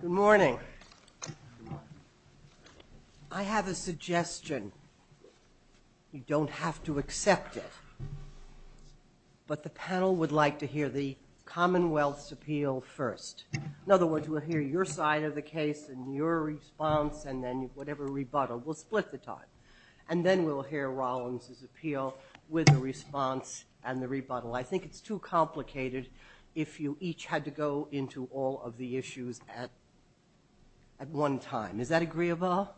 Good morning. I have a suggestion. You don't have to accept it, but the panel would like to hear the Commonwealth's appeal first. In other words, we'll hear your side of the case and your response and then whatever rebuttal. We'll split the time. And then we'll hear Rollins' appeal with the response and the rebuttal. I think it's too complicated if you each had to go into all of the issues at one time. Does that agree with all?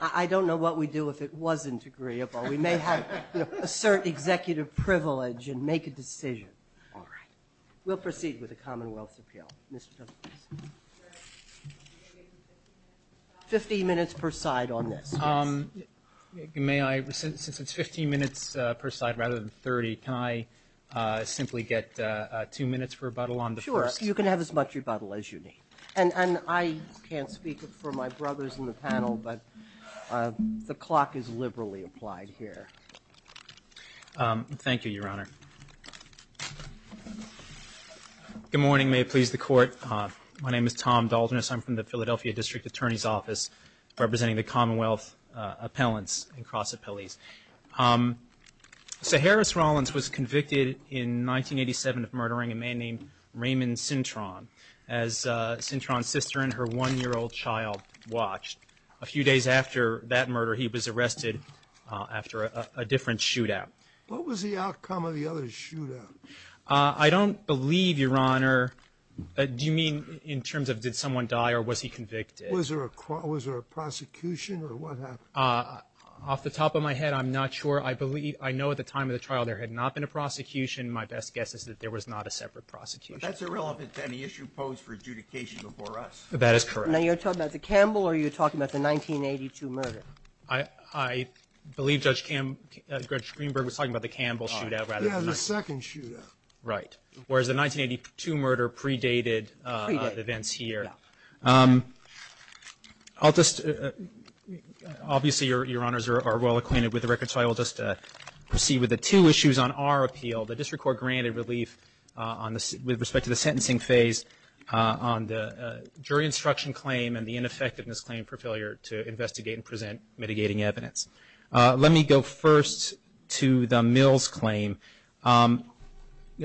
I don't know what we'd do if it wasn't agreeable. We may have to assert executive privilege and make a decision. We'll proceed with the Commonwealth's appeal. Fifteen minutes per minute for rebuttal on the first. Sure, you can have as much rebuttal as you need. And I can't speak for my brothers in the panel, but the clock is liberally applied here. Thank you, Your Honor. Good morning. May it please the Court. My name is Tom Daldrin. I'm from the Philadelphia District Attorney's Office representing the Commonwealth appellants and cross appellees. So Harris Rollins was convicted in 1987 of murdering a man named Raymond Cintron as Cintron's sister and her one-year-old child watched. A few days after that murder, he was arrested after a different shootout. What was the outcome of the other shootout? I don't believe, Your Honor. Do you mean in terms of did someone die or was he convicted? Was there a prosecution or what happened? Off the top of my head, I'm not sure. I believe, I know at the time of the trial, there had not been a prosecution. My best guess is that there was not a separate prosecution. That's irrelevant to any issue posed for adjudication before us. That is correct. Now you're talking about the Campbell or you're talking about the 1982 murder? I believe Judge Greenberg was talking about the Campbell shootout rather than the... Yeah, the second shootout. Right. Whereas the 1982 murder predated events here. Obviously, Your Honors are well acquainted with the record, so I will just proceed with the two issues on our appeal. The District Court granted relief with respect to the sentencing phase on the jury instruction claim and the ineffectiveness claim for failure to investigate and present mitigating evidence. Let me go first to the Mills claim.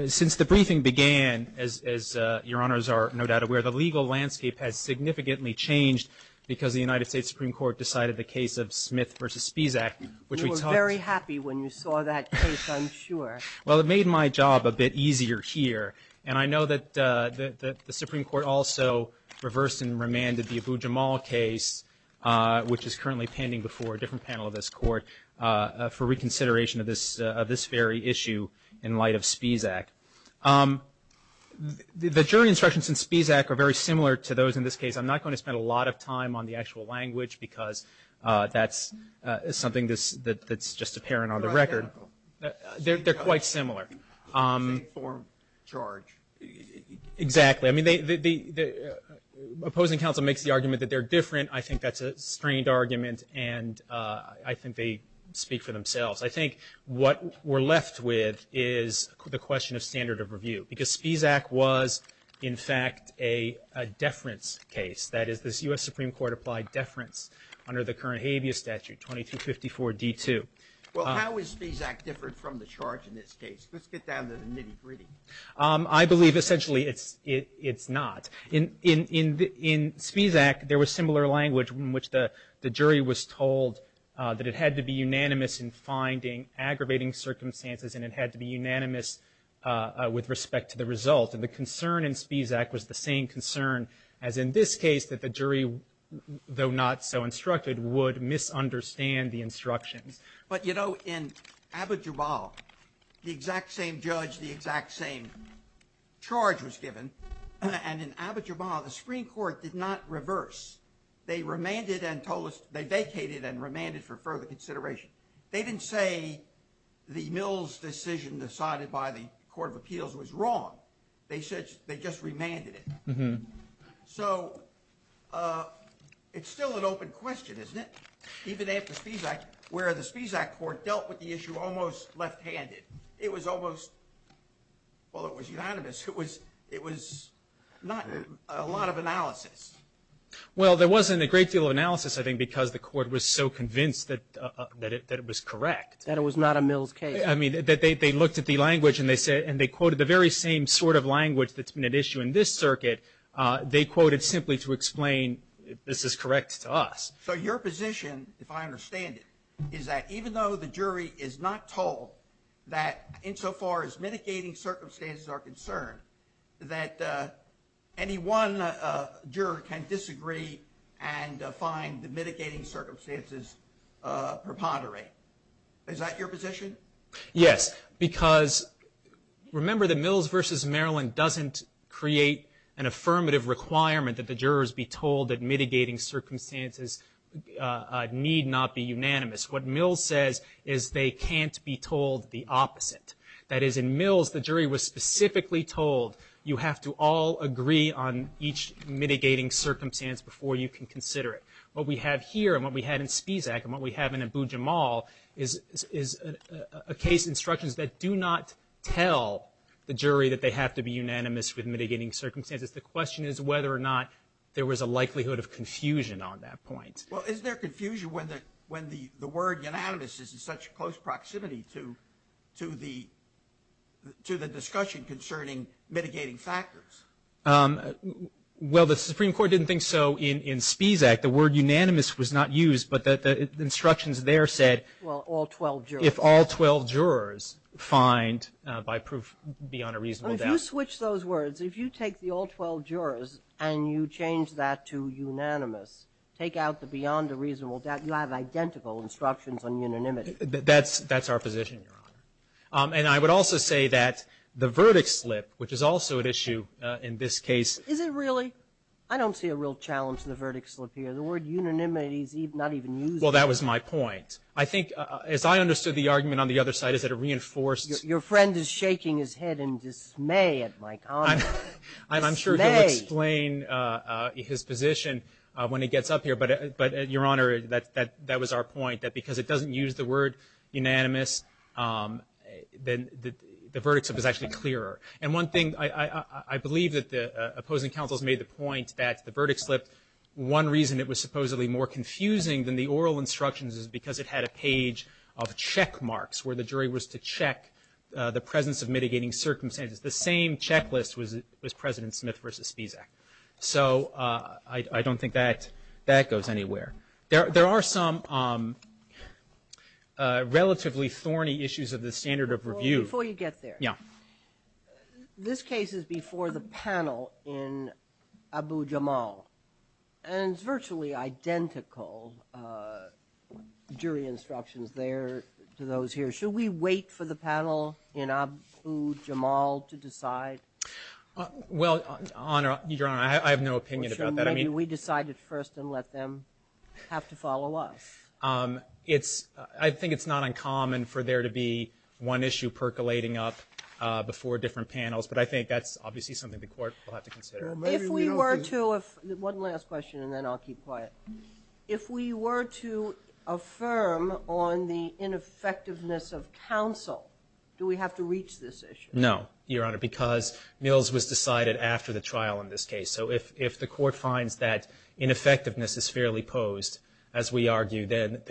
Since the briefing began, as Your Honors are no doubt aware, the legal landscape has significantly changed because the United States Supreme Court decided the case of Smith v. Spisak. You were very happy when you saw that case, I'm sure. Well, it made my job a bit easier here. I know that the Supreme Court also reversed and remanded the Abu Jamal case, which is currently pending before a different panel of this court, for reconsideration of this very issue in light of Spisak. The jury instructions in Spisak are very similar to those in this case. I'm not going to spend a lot of time on the actual language, because that's something that's just apparent on the record. They're quite similar. Informed charge. Exactly. Opposing counsel makes the argument that they're different. I think that's a strange argument, and I think they speak for themselves. I think what we're left with is the question of standard of review, because Spisak was, in fact, a deference case. That is, this U.S. Supreme Court applied deference under the current habeas statute, 2254 D2. Well, how is Spisak different from the charge in this case? Let's get down to the nitty-gritty. I believe, essentially, it's not. In Spisak, there was similar language in which the jury was told that it had to be unanimous in finding aggravating circumstances, and it had to be unanimous with respect to the result. And the concern in Spisak was the same concern as in this case, that the jury, though not so instructed, would misunderstand the instruction. But, you know, in Abu Jamal, the exact same judge, the exact same charge was given. And in Abu Jamal, the Supreme Court did not reverse. They remanded and told us – they vacated and remanded for further consideration. They didn't say the Mills decision decided by the Court of Appeals was wrong. They said they just remanded it. So it's still an open question, isn't it? Even at the Spisak, where the Spisak Court dealt with the issue almost left-handed. It was almost – well, it was unanimous. It was not a lot of analysis. Well, there wasn't a great deal of analysis, I think, because the Court was so convinced that it was correct. That it was not a Mills case. I mean, that they looked at the language, and they quoted the very same sort of language that's been at issue in this circuit. They quoted simply to explain, this is correct to us. So your position, if I understand it, is that even though the jury is not told that insofar as mitigating circumstances are concerned, that any one juror can disagree and find the mitigating circumstances preponderate. Is that your position? Yes, because remember that Mills v. Maryland doesn't create an affirmative requirement that the jurors be told that mitigating circumstances need not be unanimous. What Mills says is they can't be told the opposite. That is, in Mills, the jury was specifically told, you have to all agree on each mitigating circumstance before you can consider it. What we have here, and what we had in Spisak, and what we have in Abu Jamal, is a case instructions that do not tell the jury that they have to be unanimous with mitigating circumstances. The question is whether or not there was a likelihood of confusion on that point. Well, is there confusion when the word unanimous is in such close proximity to the discussion concerning mitigating factors? Well, the Supreme Court didn't think so in Spisak. The word unanimous was not used, but the instructions there said if all 12 jurors find, by proof, beyond a reasonable doubt, you have identical instructions on unanimity. That's our position. And I would also say that the verdict slip, which is also an issue in this case. Is it really? I don't see a real challenge in the verdict slip here. The word unanimity is not even used. Well, that was my point. I think, as I understood the argument on the other side, is that it reinforces... Your Honor, that was our point, that because it doesn't use the word unanimous, then the verdict slip is actually clearer. And one thing, I believe that the opposing counsels made the point that the verdict slip, one reason it was supposedly more confusing than the oral instructions is because it had a page of check marks where the jury was to check the presence of mitigating circumstances. The same checklist was President Smith versus Spisak. So I don't think that goes anywhere. There are some relatively thorny issues of the standard of review. Before you get there. Yeah. This case is before the panel in Abu Jamal and virtually identical jury instructions there to those here. Should we wait for the panel in Abu Jamal to decide? Well, Your Honor, I have no opinion about that. We decide it first and let them have to follow us. I think it's not uncommon for there to be one issue percolating up before different panels, but I think that's obviously something the court will have to consider. If we were to... One last question and then I'll keep quiet. If we were to find the ineffectiveness of counsel, do we have to reach this issue? No, Your Honor, because Mills was decided after the trial in this case. So if the court finds that ineffectiveness is fairly posed, as we argued then,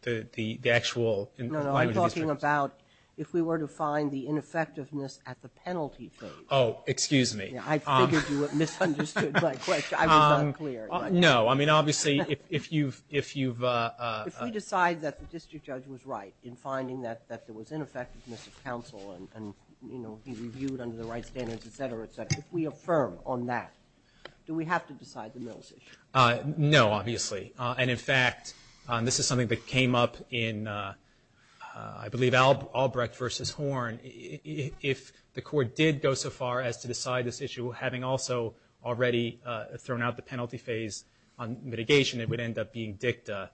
the actual... No, I'm talking about if we were to find the ineffectiveness at the penalty thing. Oh, excuse me. I figured you had misunderstood my question. I was unclear. No, I mean, obviously, if you've... If we decide that the district judge was right in finding that there was ineffectiveness of counsel and, you know, he reviewed under the right standards, etc., etc., if we affirm on that, do we have to decide the Mills issue? No, obviously. And, in fact, this is something that came up in, I believe, Albrecht v. Horn. If the court did go so far as to decide this issue, having also already thrown out the penalty phase on mitigation, it would end up being dicta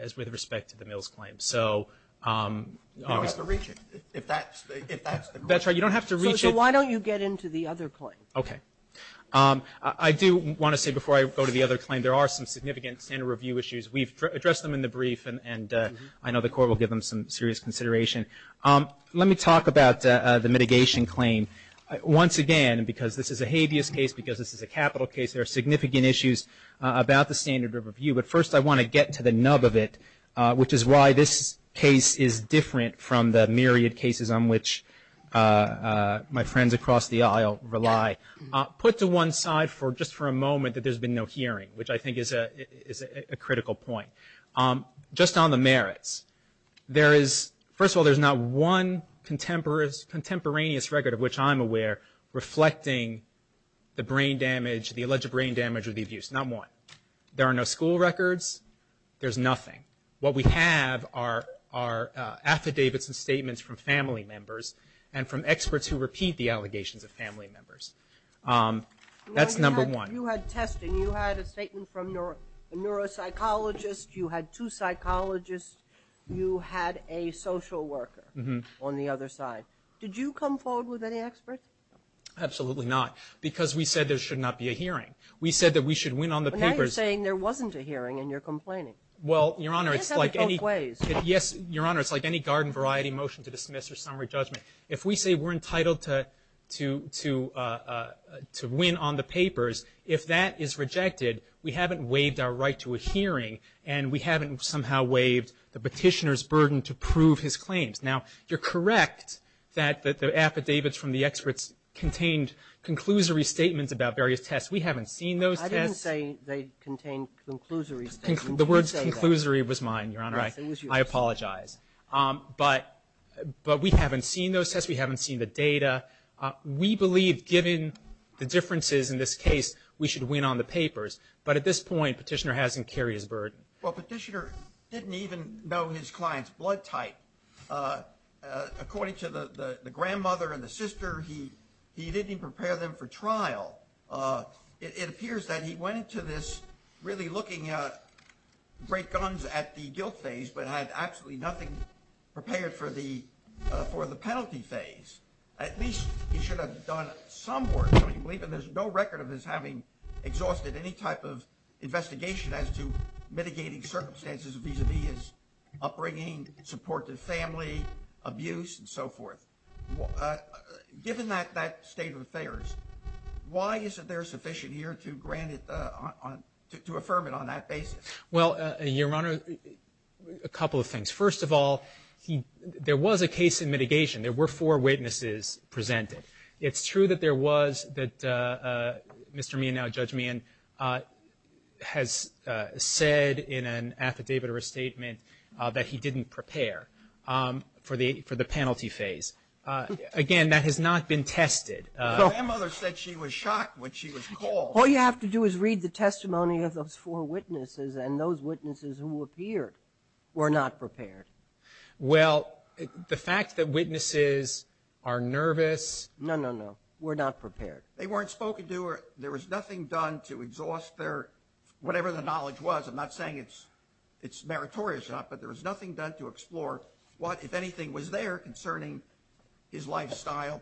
as with respect to the Mills claim. So... You don't have to reach it. That's right. You don't have to reach it. So why don't you get into the other point? Okay. I do want to say, before I go to the other claim, there are some significant standard review issues. We've addressed them in the brief, and I know the court will give them some serious consideration. Let me talk about the mitigation claim. Once again, because this is a habeas case, because this is a capital case, there are significant issues about the standard review. But first, I want to get to the nub of it, which is why this case is different from the myriad cases on which my friends across the aisle rely. Put to one side, just for a moment, that there's been no hearing, which I think is a critical point. Just on the merits, there is, first of all, there's not one contemporaneous record of which I'm aware reflecting the brain damage, the alleged brain damage of these youths. Not one. There are no school records. There's nothing. What we have are affidavits and statements from family members and from experts who repeat the allegations of family members. That's number one. You had testing. You had a statement from a neuropsychologist. You had two psychologists. You had a social worker on the other side. Did you come forward with any experts? Absolutely not, because we said there should not be a hearing. We said that we should win on the papers. But now you're saying there wasn't a hearing, and you're complaining. Well, Your Honor, it's like any garden variety motion to dismiss or summary judgment. If we say we're entitled to win on the papers, if that is rejected, we haven't waived our right to a hearing, and we haven't somehow waived the petitioner's burden to prove his claims. Now, you're correct that the affidavits from the experts contained conclusory statements about various tests. We haven't seen those. I didn't say they contained conclusory statements. The word conclusory was mine, Your Honor. I apologize. But we haven't seen those tests. We haven't seen the data. We believe, given the differences in this case, we should win on the burden. Well, the petitioner didn't even know his client's blood type. According to the grandmother and the sister, he didn't even prepare them for trial. It appears that he went into this really looking to break gums at the guilt phase, but had absolutely nothing prepared for the penalty phase. At least he should have done some work. There's no record of his having exhausted any type of investigation as to mitigating circumstances vis-a-vis his upbringing, support of family, abuse, and so forth. Given that state of affairs, why is it there sufficient here to affirm it on that basis? Well, Your Honor, a couple of things. First of all, there was a case in mitigation. There were four witnesses presented. It's true that there was that Mr. Meehan, now Judge Meehan, has said in an affidavit or a statement that he didn't prepare for the penalty phase. Again, that has not been tested. The grandmother said she was shocked when she was called. All you have to do is read the testimony of those four witnesses, and those witnesses who appear were not prepared. Well, the fact that witnesses are nervous... No, no, no. We're not prepared. They weren't spoken to, or there was nothing done to exhaust their... whatever the knowledge was. I'm not saying it's meritorious, but there was nothing done to explore what, if anything, was there concerning his lifestyle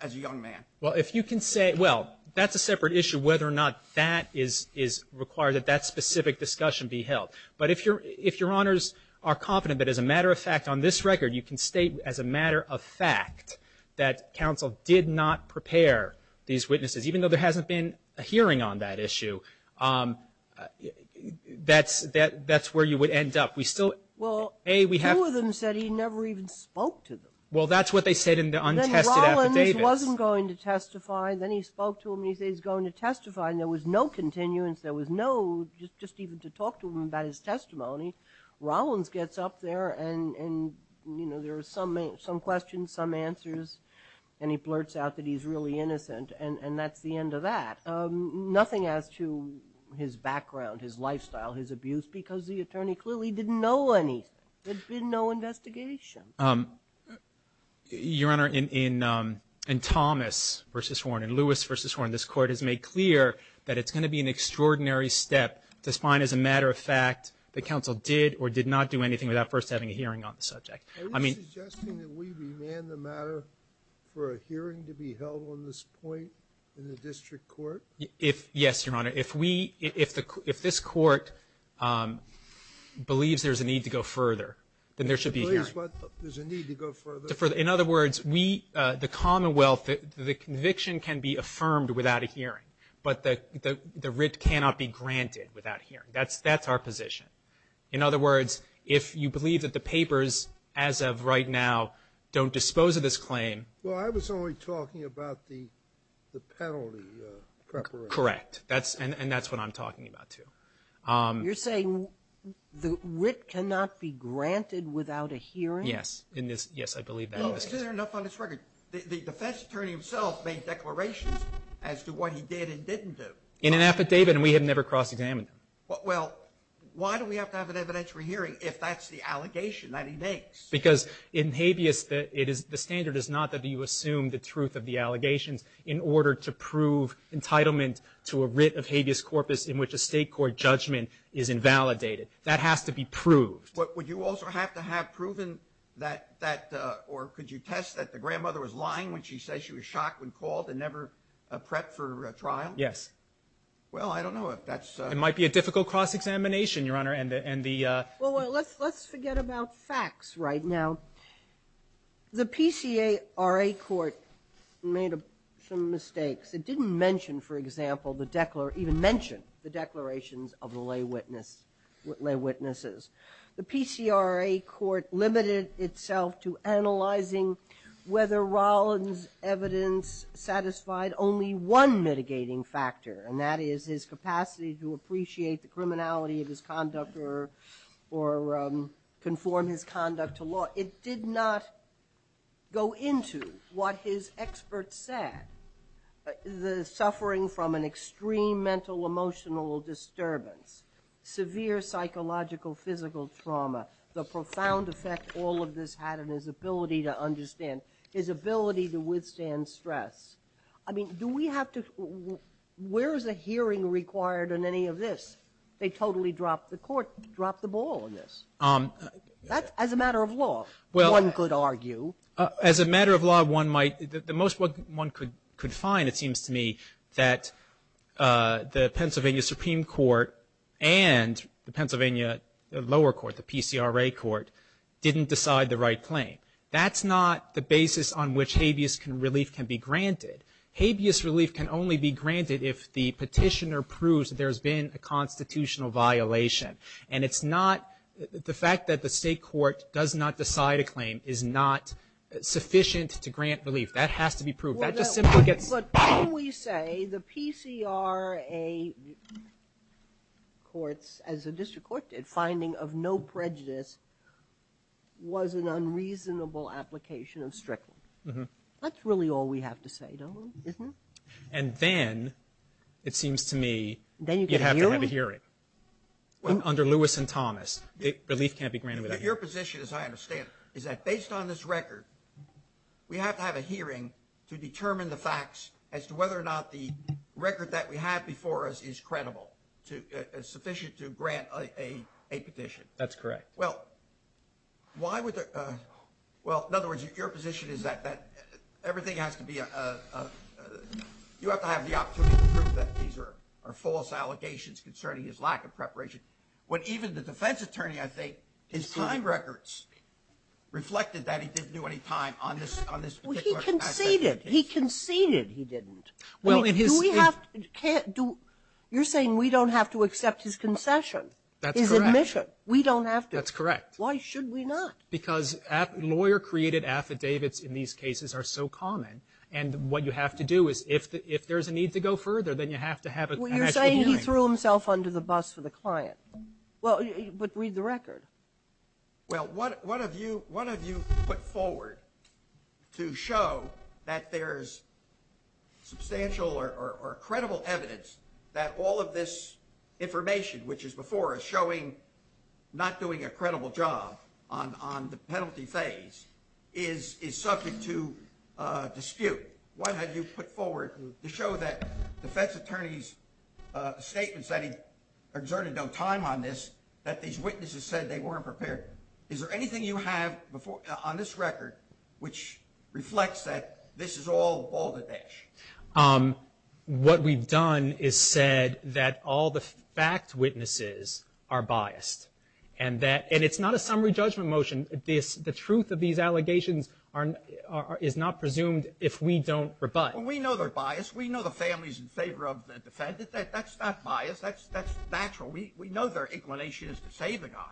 as a young man. Well, if you can say... well, that's a separate issue, whether or not that is required, that that specific discussion be held. But if your honors are confident that, as a matter of fact, on this record, you can state as a matter of fact that counsel did not prepare these witnesses, even though there hasn't been a hearing on that issue, that's where you would end up. We still... Well, two of them said he never even spoke to them. Well, that's what they said in the untested affidavit. And then Rollins wasn't going to testify, and then he spoke to them, and he said he was going to testify, and there was no continuance. There was no... just even to talk to them about his testimony. Rollins gets up there, and, you know, there are some questions, some answers, and he blurts out that he's really innocent, and that's the end of that. Nothing as to his background, his lifestyle, his abuse, because the attorney clearly didn't know anything. There's been no investigation. Your Honor, in Thomas v. Horn and Lewis v. Horn, this Court has made clear that it's going to be an extraordinary step to find, as a matter of fact, that counsel did or did not do anything without first having a hearing on the subject. Are you suggesting that we demand the matter for a hearing to be held on this point in the District Court? Yes, Your Honor. If this Court believes there's a need to go further, then there should be a hearing. There's a need to go further? In other words, the Commonwealth, the conviction can be affirmed without a hearing, but the writ cannot be granted without a hearing. That's our position. In other words, if you believe that the papers, as of right now, don't dispose of this claim... Well, I was only talking about the penalty preparation. Correct, and that's what I'm talking about, too. You're saying the writ cannot be granted without a hearing? Yes. Yes, I believe that. Isn't there enough on this record? The defense attorney himself made declarations as to what he did and didn't do. In an affidavit, and we had never cross-examined him. Well, why do we have to have an evidentiary hearing if that's the allegation that he makes? Because in habeas, the standard is not that you assume the truth of the allegation in order to prove entitlement to a writ of habeas corpus in which a state court judgment is invalidated. That has to be proved. Would you also have to have proven that, or could you test that the grandmother was lying when she says she was shocked when called and never prepped for a trial? Yes. Well, I don't know if that's... It might be a difficult cross-examination, Your Honor, and the... Well, let's forget about facts right now. The PCRA court made some mistakes. It didn't mention, for example, the declarations... It didn't even mention the declarations of the lay witnesses. The PCRA court limited itself to analyzing whether Rollins' evidence satisfied only one mitigating factor, and that is his capacity to appreciate the criminality of his conduct or conform his conduct to law. It did not go into what his experts said, the suffering from an extreme mental-emotional disturbance, severe psychological-physical trauma, the profound effect all of this had on his ability to understand, his ability to withstand stress. I mean, do we have to... Where is a hearing required on any of this? They totally dropped the court, dropped the ball on this. That's as a matter of law, one could argue. As a matter of law, one might... The most one could find, it seems to me, that the Pennsylvania Supreme Court and the Pennsylvania lower court, the PCRA court, didn't decide the right claim. That's not the basis on which habeas relief can be granted. Habeas relief can only be granted if the petitioner proves there's been a constitutional violation, and it's not... The fact that the state court does not decide a claim is not sufficient to grant relief. That has to be proved. That's a simple... Well, but can we say the PCRA courts, as the district court did, finding of no prejudice was an unreasonable application of stress? That's really all we have to say, don't we? Isn't it? And then, it seems to me, you'd have to have a hearing. Well... Under Lewis and Thomas, relief can't be granted without hearing. But your position, as I understand, is that based on this record, we have to have a hearing to determine the facts as to whether or not the record that we have before us is credible, to... Sufficient to grant a petition. That's correct. Well, why would... Well, in other words, your position is that everything has to be... You have to have the opportunity to prove that these are false allegations concerning his lack of preparation. When even the defense attorney, I think, his time records reflected that he didn't do any time on this particular aspect. Well, he conceded. He conceded he didn't. Well, if his... Do we have... You're saying we don't have to accept his concession? That's correct. His admission. We don't have to. That's correct. Why should we not? Because lawyer-created affidavits in these cases are so common, and what you have to do is, if there's a need to go further, then you have to have a connection point. Well, you're saying he threw himself under the bus to the client. Well, but read the record. Well, what have you put forward to show that there's substantial or credible evidence that all of this information, which is before us, showing not doing a credible job on the penalty phase is subject to dispute? What have you put forward to show that defense attorneys' statements that he exerted no time on this, that these witnesses said they weren't prepared? Is there anything you have on this record which reflects that this is all balderdash? What we've done is said that all the fact witnesses are biased, and it's not a summary judgment motion. The truth of these allegations is not presumed if we don't rebut. We know they're biased. We know the family's in favor of the defendant. That's not bias. That's natural. We know their inclination is to save a guy,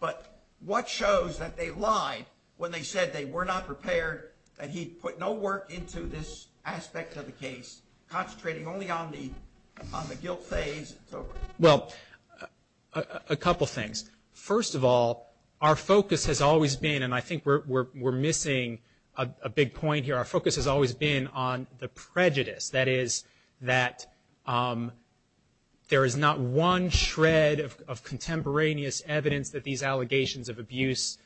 but what shows that they lied when they said they were not prepared, and he put no work into this aspect of the case, concentrating only on the guilt phase and so forth? Well, a couple things. First of all, our focus has always been, and I think we're missing a big point here, our focus has always been on the prejudice. That is that there is not one shred of contemporaneous evidence that these allegations of abuse,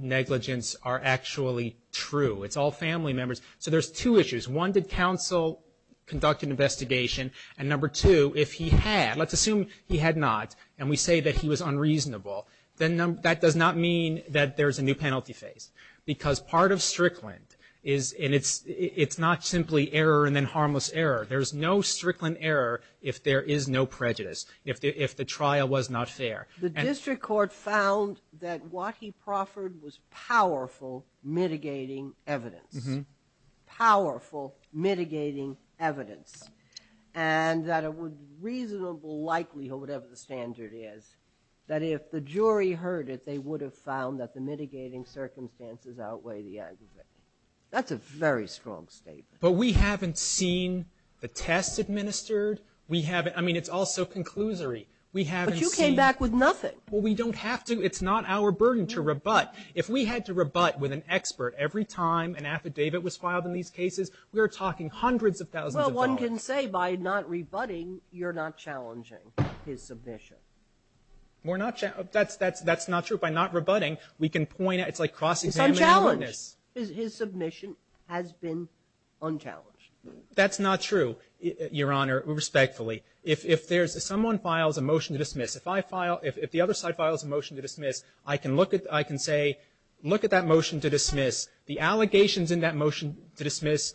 negligence are actually true. It's all family members. So there's two issues. One, did counsel conduct an investigation? And number two, if he had, let's assume he had not, and we say that he was unreasonable, then that does not mean that there's a new penalty phase, because part of Strickland is, and it's not simply error and then harmless error. There's no Strickland error if there is no prejudice, if the trial was not fair. The district court found that Waukee Crawford was powerful mitigating evidence, powerful mitigating evidence. And that it was reasonable likelihood, whatever the standard is, that if the jury heard it, they would have found that the mitigating circumstances outweigh the evidence. That's a very strong statement. But we haven't seen the test administered. We haven't, I mean, it's all so conclusory. We haven't seen- But you came back with nothing. Well, we don't have to. It's not our burden to rebut. If we had to rebut with an expert every time an affidavit was filed in these cases, we were talking hundreds of thousands of dollars. Well, one can say by not rebutting, you're not challenging his submission. We're not, that's not true. By not rebutting, we can point out- It's like cross-examining- And challenge. His submission has been unchallenged. That's not true, Your Honor, respectfully. If someone files a motion to dismiss, if I file, if the other side files a motion to dismiss, the allegations in that motion to dismiss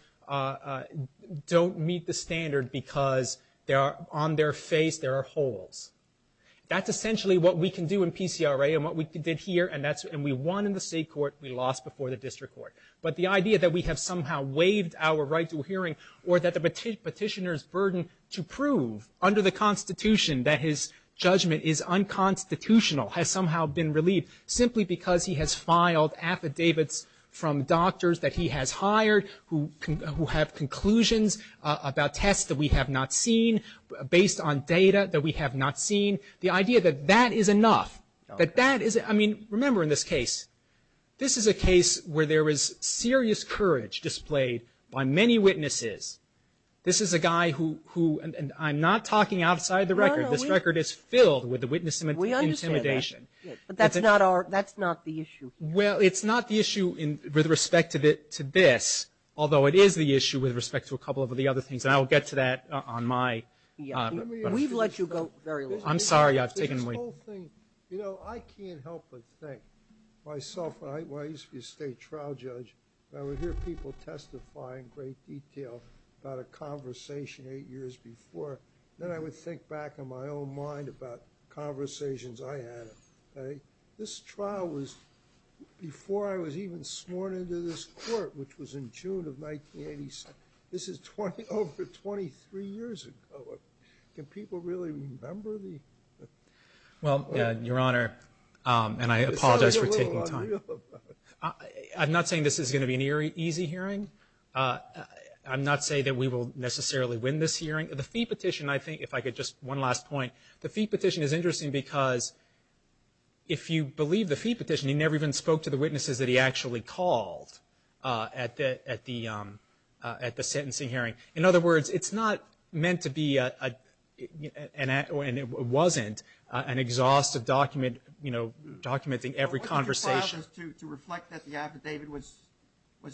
don't meet the standard because on their face there are holes. That's essentially what we can do in PCRA and what we did here, and we won in the state court. We lost before the district court. But the idea that we have somehow waived our right to a hearing or that the petitioner's burden to prove under the Constitution that his judgment is unconstitutional has somehow been relieved simply because he has filed affidavits from doctors that he has hired who have conclusions about tests that we have not seen, based on data that we have not seen. The idea that that is enough, that that is, I mean, remember in this case, this is a case where there was serious courage displayed by many witnesses. This is a guy who, and I'm not talking outside the record, this record is filled with witness intimidation. That's not the issue. Well, it's not the issue with respect to this, although it is the issue with respect to a couple of the other things. I'll get to that on my... We've let you go very long. I'm sorry, I was taking away. You know, I can't help but think myself, I used to be a state trial judge. I would hear people testify in great detail about a conversation eight years before. Then I would think back in my own mind about conversations I had. This trial was before I was even sworn into this court, which was in June of 1987. This is over 23 years ago. Can people really remember the... Well, Your Honor, and I apologize for taking time. I'm not saying this is going to be an easy hearing. I'm not saying that we will necessarily win this hearing. The fee petition, I think, if I could just... One last point. The fee petition is interesting because if you believe the fee petition, he never even spoke to the witnesses that he actually called at the sentencing hearing. In other words, it's not meant to be, and it wasn't, an exhaustive document, you know, documenting every conversation. What was the process to reflect that the affidavit was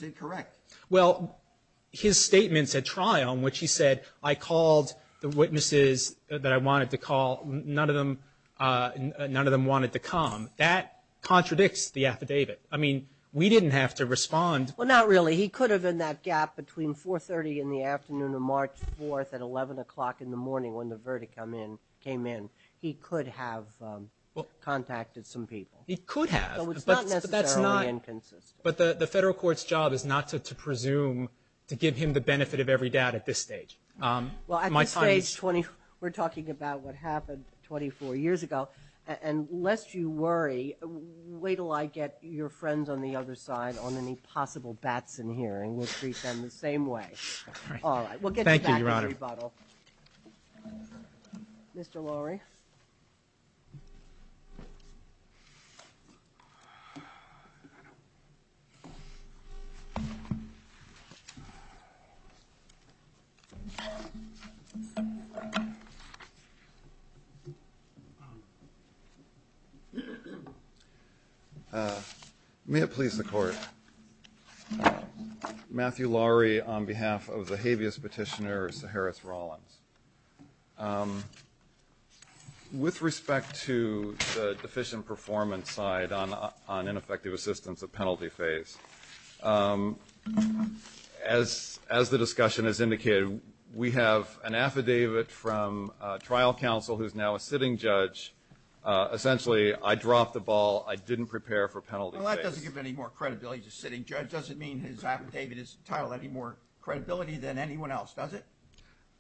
incorrect? Well, his statements at trial in which he said, I called the witnesses that I wanted to call. None of them wanted to come. That contradicts the affidavit. I mean, we didn't have to respond. Well, not really. He could have, in that gap between 4.30 in the afternoon of March 4th at 11 o'clock in the morning when the verdict came in, he could have contacted some people. He could have. So it's not necessarily inferences. But the federal court's job is not to presume to give him the benefit of every doubt at this stage. Well, at this stage, we're talking about what happened 24 years ago. And lest you worry, wait till I get your friends on the other side on any possible bats in the hearing. We'll treat them the same way. We'll get back to the rebuttal. Thank you, Your Honor. Mr. Lowry? May it please the Court. Matthew Lowry on behalf of the habeas petitioner, Seharis Rollins. With respect to the deficient performance side on ineffective assistance, the penalty phase, as the discussion has indicated, we have an affidavit from a trial counsel who's now a sitting judge. Essentially, I dropped the ball. I didn't prepare for penalty phase. Well, that doesn't give any more credibility to a sitting judge. Does it mean his affidavit is entitled to any more credibility than anyone else? Does it?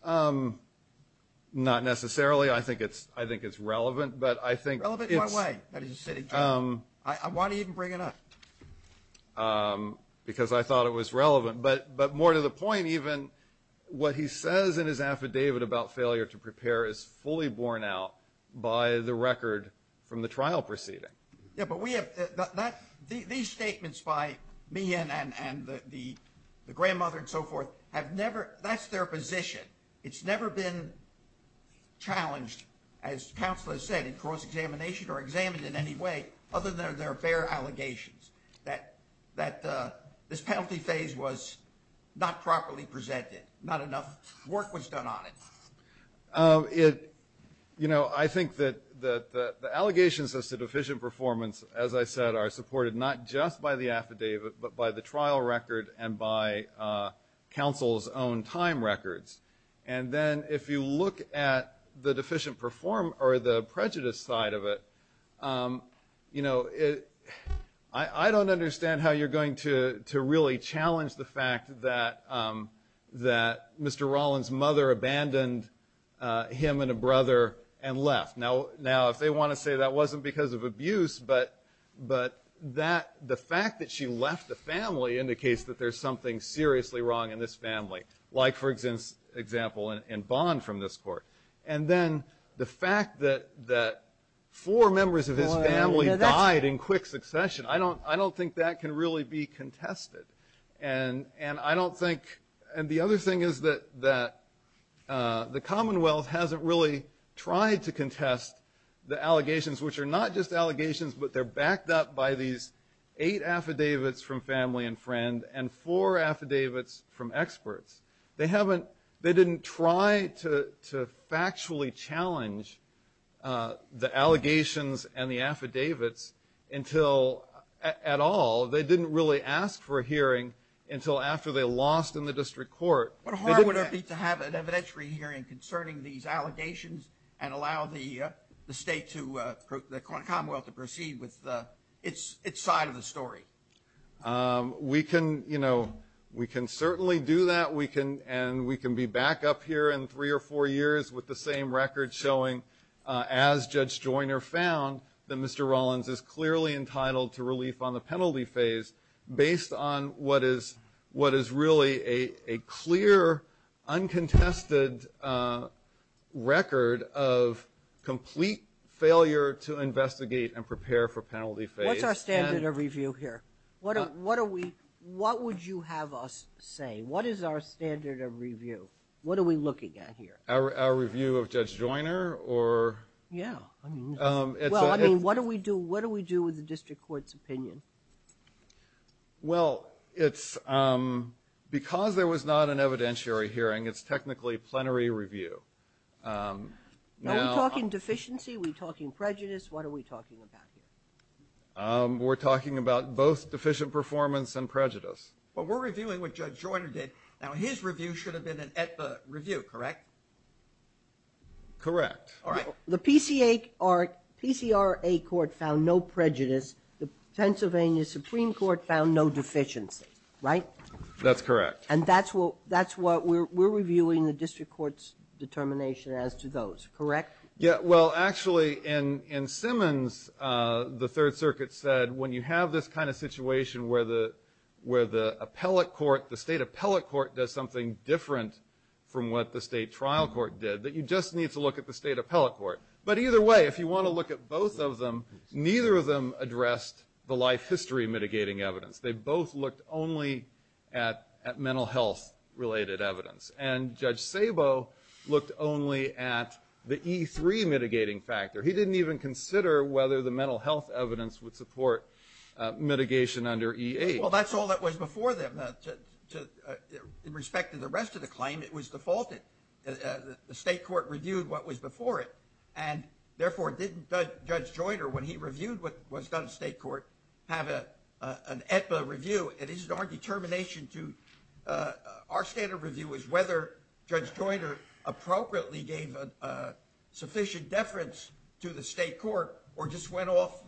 Um, not necessarily. I think it's – I think it's relevant. But I think – Relevant in what way that he's a sitting judge? Why do you even bring it up? Because I thought it was relevant. But more to the point, even, what he says in his affidavit about failure to prepare is fully borne out by the record from the trial proceeding. Yeah, but we have – that – these statements by me and the grandmother and so forth have never been challenged, as counsel has said, in cross-examination or examined in any way other than in their fair allegations that this penalty phase was not properly presented, not enough work was done on it. It – you know, I think that the allegations as to deficient performance, as I said, are supported not just by the affidavit but by the trial record and by counsel's own time records. And then if you look at the deficient – or the prejudice side of it, you know, I don't understand how you're going to really challenge the fact that Mr. Rollins' mother abandoned him and a brother and left. Now, if they want to say that wasn't because of abuse, but that – the fact that she left the family indicates that there's something seriously wrong in this family. Like, for example, in Bond from this court. And then the fact that four members of his family died in quick succession, I don't think that can really be contested. And I don't think – and the other thing is that the Commonwealth hasn't really tried to contest the allegations, which are not just allegations but they're backed up by these eight affidavits from family and friend and four affidavits from experts. They haven't – they didn't try to factually challenge the allegations and the affidavits until – at all. They didn't really ask for a hearing until after they lost in the district court. They didn't ask – But how hard would it be to have an evidentiary hearing concerning these allegations and allow the state to – the Commonwealth to proceed with its side of the story? We can – we can certainly do that. We can – and we can be back up here in three or four years with the same record showing, as Judge Joyner found, that Mr. Rollins is clearly entitled to relief on the penalty phase based on what is really a clear, uncontested record of complete failure to investigate and prepare for penalty phase. What's our standard of review here? What are we – what would you have us say? What is our standard of review? What are we looking at here? Our review of Judge Joyner or – Yeah. Well, I mean, what do we do – what do we do with the district court's opinion? Well, it's – because there was not an evidentiary hearing, it's technically plenary review. Now – Are we talking deficiency? Are we talking prejudice? What are we talking about here? We're talking about both deficient performance and prejudice. But we're reviewing what Judge Joyner did. Now, his review should have been at the review, correct? Correct. All right. The PCA – PCRA court found no prejudice. The Pennsylvania Supreme Court found no deficiency, right? That's correct. And that's what – that's what we're reviewing the district court's determination as to those, correct? Yeah. Well, actually, in Simmons, the Third Circuit said when you have this kind of situation where the – where the appellate court – the state appellate court does something different from what the state trial court did, that you just need to look at the state appellate court. But either way, if you want to look at both of them, neither of them addressed the life history mitigating evidence. They both looked only at mental health-related evidence. And Judge Sabo looked only at the E3 mitigating factor. He didn't even consider whether the mental health evidence would support mitigation under E8. Well, that's all that was before them. To – in respect to the rest of the claim, it was defaulted. The state court reviewed what was before it. And therefore, didn't Judge Joyner, when he reviewed what was done in state court, have an EPA review? It is our determination to – our standard review was whether Judge Joyner appropriately gave a sufficient deference to the state court or just went off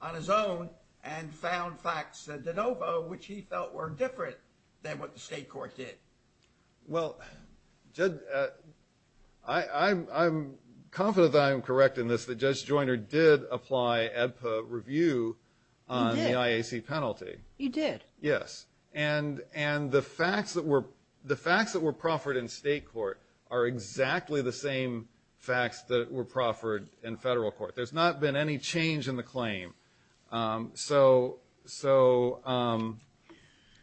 on his own and found facts which he felt were different than what the state court did. Well, Judge – I'm confident that I'm correct in this, that Judge Joyner did apply EPA review on the IAC penalty. He did. Yes. And the facts that were – the facts that were proffered in state court are exactly the same facts that were proffered in federal court. There's not been any change in the claim. So – so,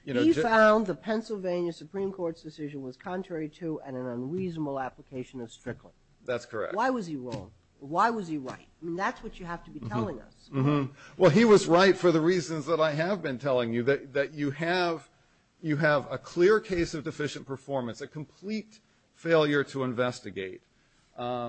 you know, He found the Pennsylvania Supreme Court's decision was contrary to and an unreasonable application of Strickland. That's correct. Why was he wrong? Why was he right? That's what you have to be telling us. Well, he was right for the reasons that I have been telling you, that you have – you have a clear case of deficient performance, a complete failure to investigate. And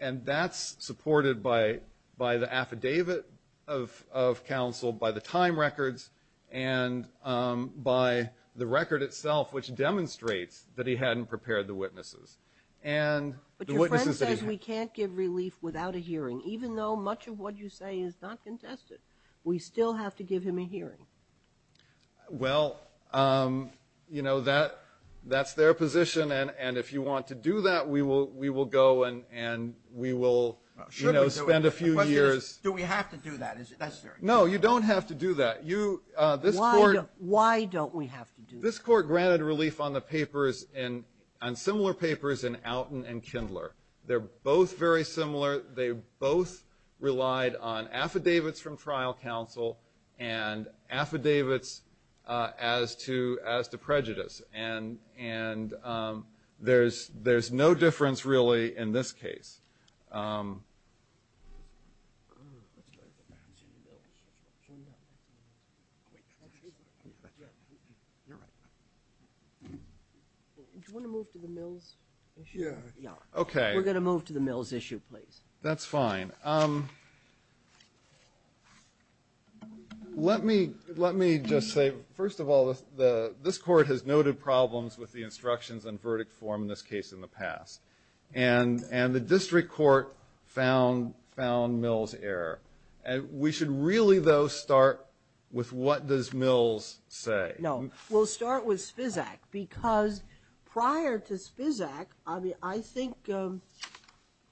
that's supported by – by the affidavit of counsel, by the time records, and by the record itself, which demonstrates that he hadn't prepared the witnesses. And – But your friend says we can't give relief without a hearing, even though much of what you say is not contested. We still have to give him a hearing. Well, you know, that – that's their position, and if you want to do that, we will – we will go and we will, you know, spend a few years. Do we have to do that? Is it necessary? No, you don't have to do that. You – this court – Why don't we have to do that? This court granted relief on the papers in – on similar papers in Outen and Kindler. They're both very similar. They both relied on affidavits from trial counsel and affidavits as to – as to prejudice. And – and there's – there's no difference, really, in this case. Do you want to move to the Mills issue? Yeah. Okay. We're going to move to the Mills issue, please. That's fine. Let me – let me just say, first of all, the – this court has noted problems with the instructions and verdict form in this case in the past, and – and the district court found – found Mills' error. And we should really, though, start with what does Mills say? No. We'll start with Spizak, because prior to Spizak, I think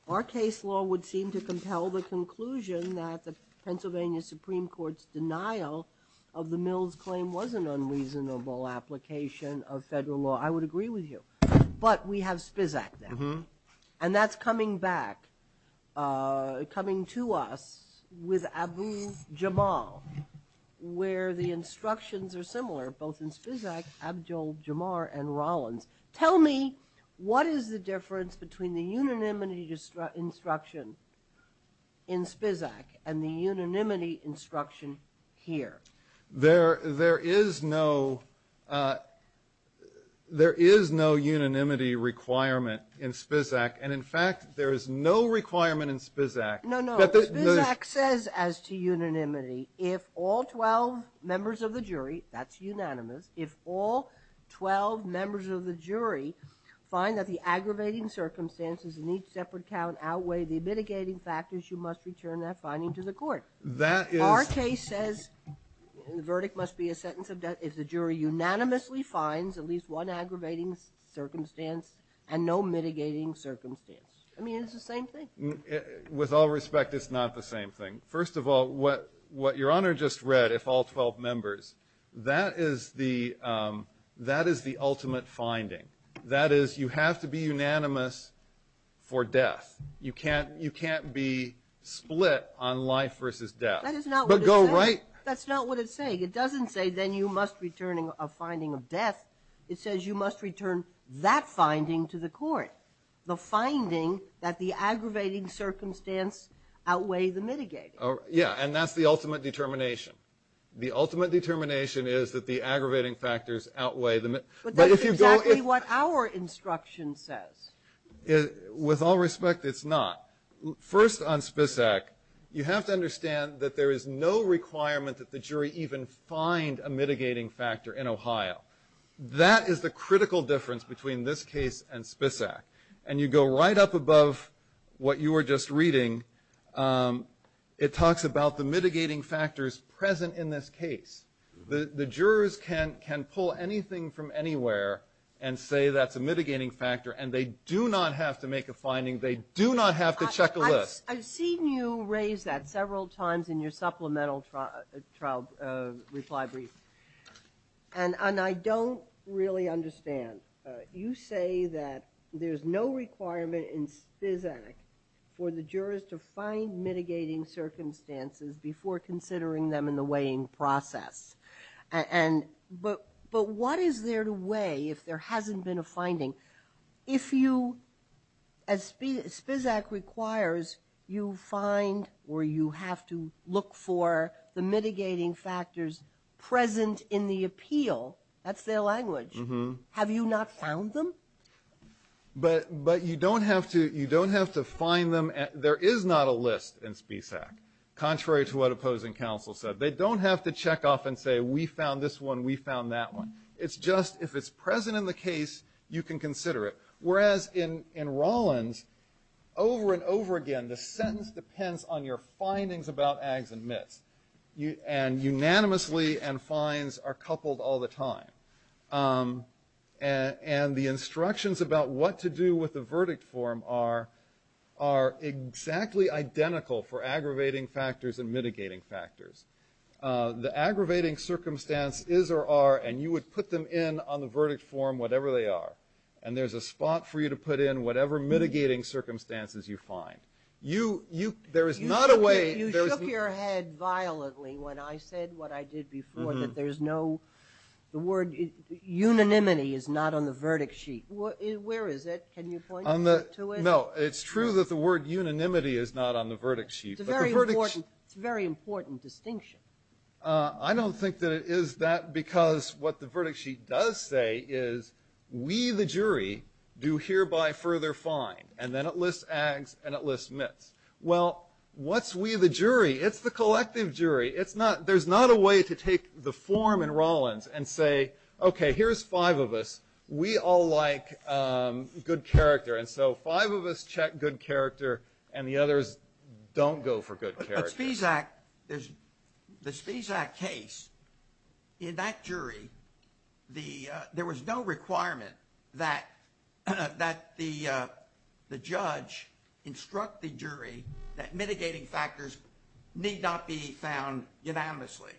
our case law would seem to compel the conclusion that the Pennsylvania Supreme Court's denial of the Mills claim was an unreasonable application of federal law. I would agree with you. But we have Spizak now. And that's coming back – coming to us with Abu Jamal, where the instructions are in Spizak, Abdul-Jamal, and Rollins. Tell me, what is the difference between the unanimity instruction in Spizak and the unanimity instruction here? There – there is no – there is no unanimity requirement in Spizak. And in fact, there is no requirement in Spizak. No, no. Spizak says as to unanimity, if all 12 members of the jury – that's unanimous – if all 12 members of the jury find that the aggravating circumstances in each separate count outweigh the mitigating factors, you must return that finding to the court. That is – Our case says the verdict must be a sentence of death if the jury unanimously finds at least one aggravating circumstance and no mitigating circumstance. I mean, it's the same thing. With all respect, it's not the same thing. First of all, what Your Honor just read, if all 12 members, that is the – that is the ultimate finding. That is, you have to be unanimous for death. You can't – you can't be split on life versus death. That is not what it says. But go right – That's not what it's saying. It doesn't say then you must return a finding of death. It says you must return that finding to the court. The finding that the aggravating circumstance outweigh the mitigating. Oh, yeah, and that's the ultimate determination. The ultimate determination is that the aggravating factors outweigh the – But that's exactly what our instruction says. With all respect, it's not. First, on Spisak, you have to understand that there is no requirement that the jury even find a mitigating factor in Ohio. That is the critical difference between this case and Spisak. And you go right up above what you were just reading. It talks about the mitigating factors present in this case. The jurors can pull anything from anywhere and say that's a mitigating factor, and they do not have to make a finding. They do not have to check a list. I've seen you raise that several times in your supplemental trial reply brief. And I don't really understand. You say that there's no requirement in Spisak for the jurors to find mitigating circumstances before considering them in the weighing process. But what is there to weigh if there hasn't been a finding? If you – and Spisak requires you find or you have to look for the mitigating factors present in the appeal, that's their language. Have you not found them? But you don't have to – you don't have to find them. There is not a list in Spisak, contrary to what opposing counsel said. They don't have to check off and say we found this one, we found that one. It's just if it's present in the case, you can consider it. Whereas in Rolland, over and over again, the sentence depends on your findings about ags and myths, and unanimously and finds are coupled all the time. And the instructions about what to do with the verdict form are exactly identical for aggravating factors and mitigating factors. The aggravating circumstance is or are, and you would put them in on the verdict form, whatever they are, and there's a spot for you to put in whatever mitigating circumstances you find. You – there is not a way – You shook your head violently when I said what I did before, that there's no – the word – unanimity is not on the verdict sheet. Where is it? Can you point me to it? No, it's true that the word unanimity is not on the verdict sheet. It's a very important distinction. I don't think that it is that, because what the verdict sheet does say is we, the jury, do hereby further find, and then it lists ags and it lists myths. Well, what's we, the jury? It's the collective jury. It's not – there's not a way to take the form in Rolland and say, okay, here's five of us. We all like good character, and so five of us check good character, and the others don't go for good character. There's – the CZAC case, in that jury, the – there was no requirement that the judge instruct the jury that mitigating factors need not be found unanimously.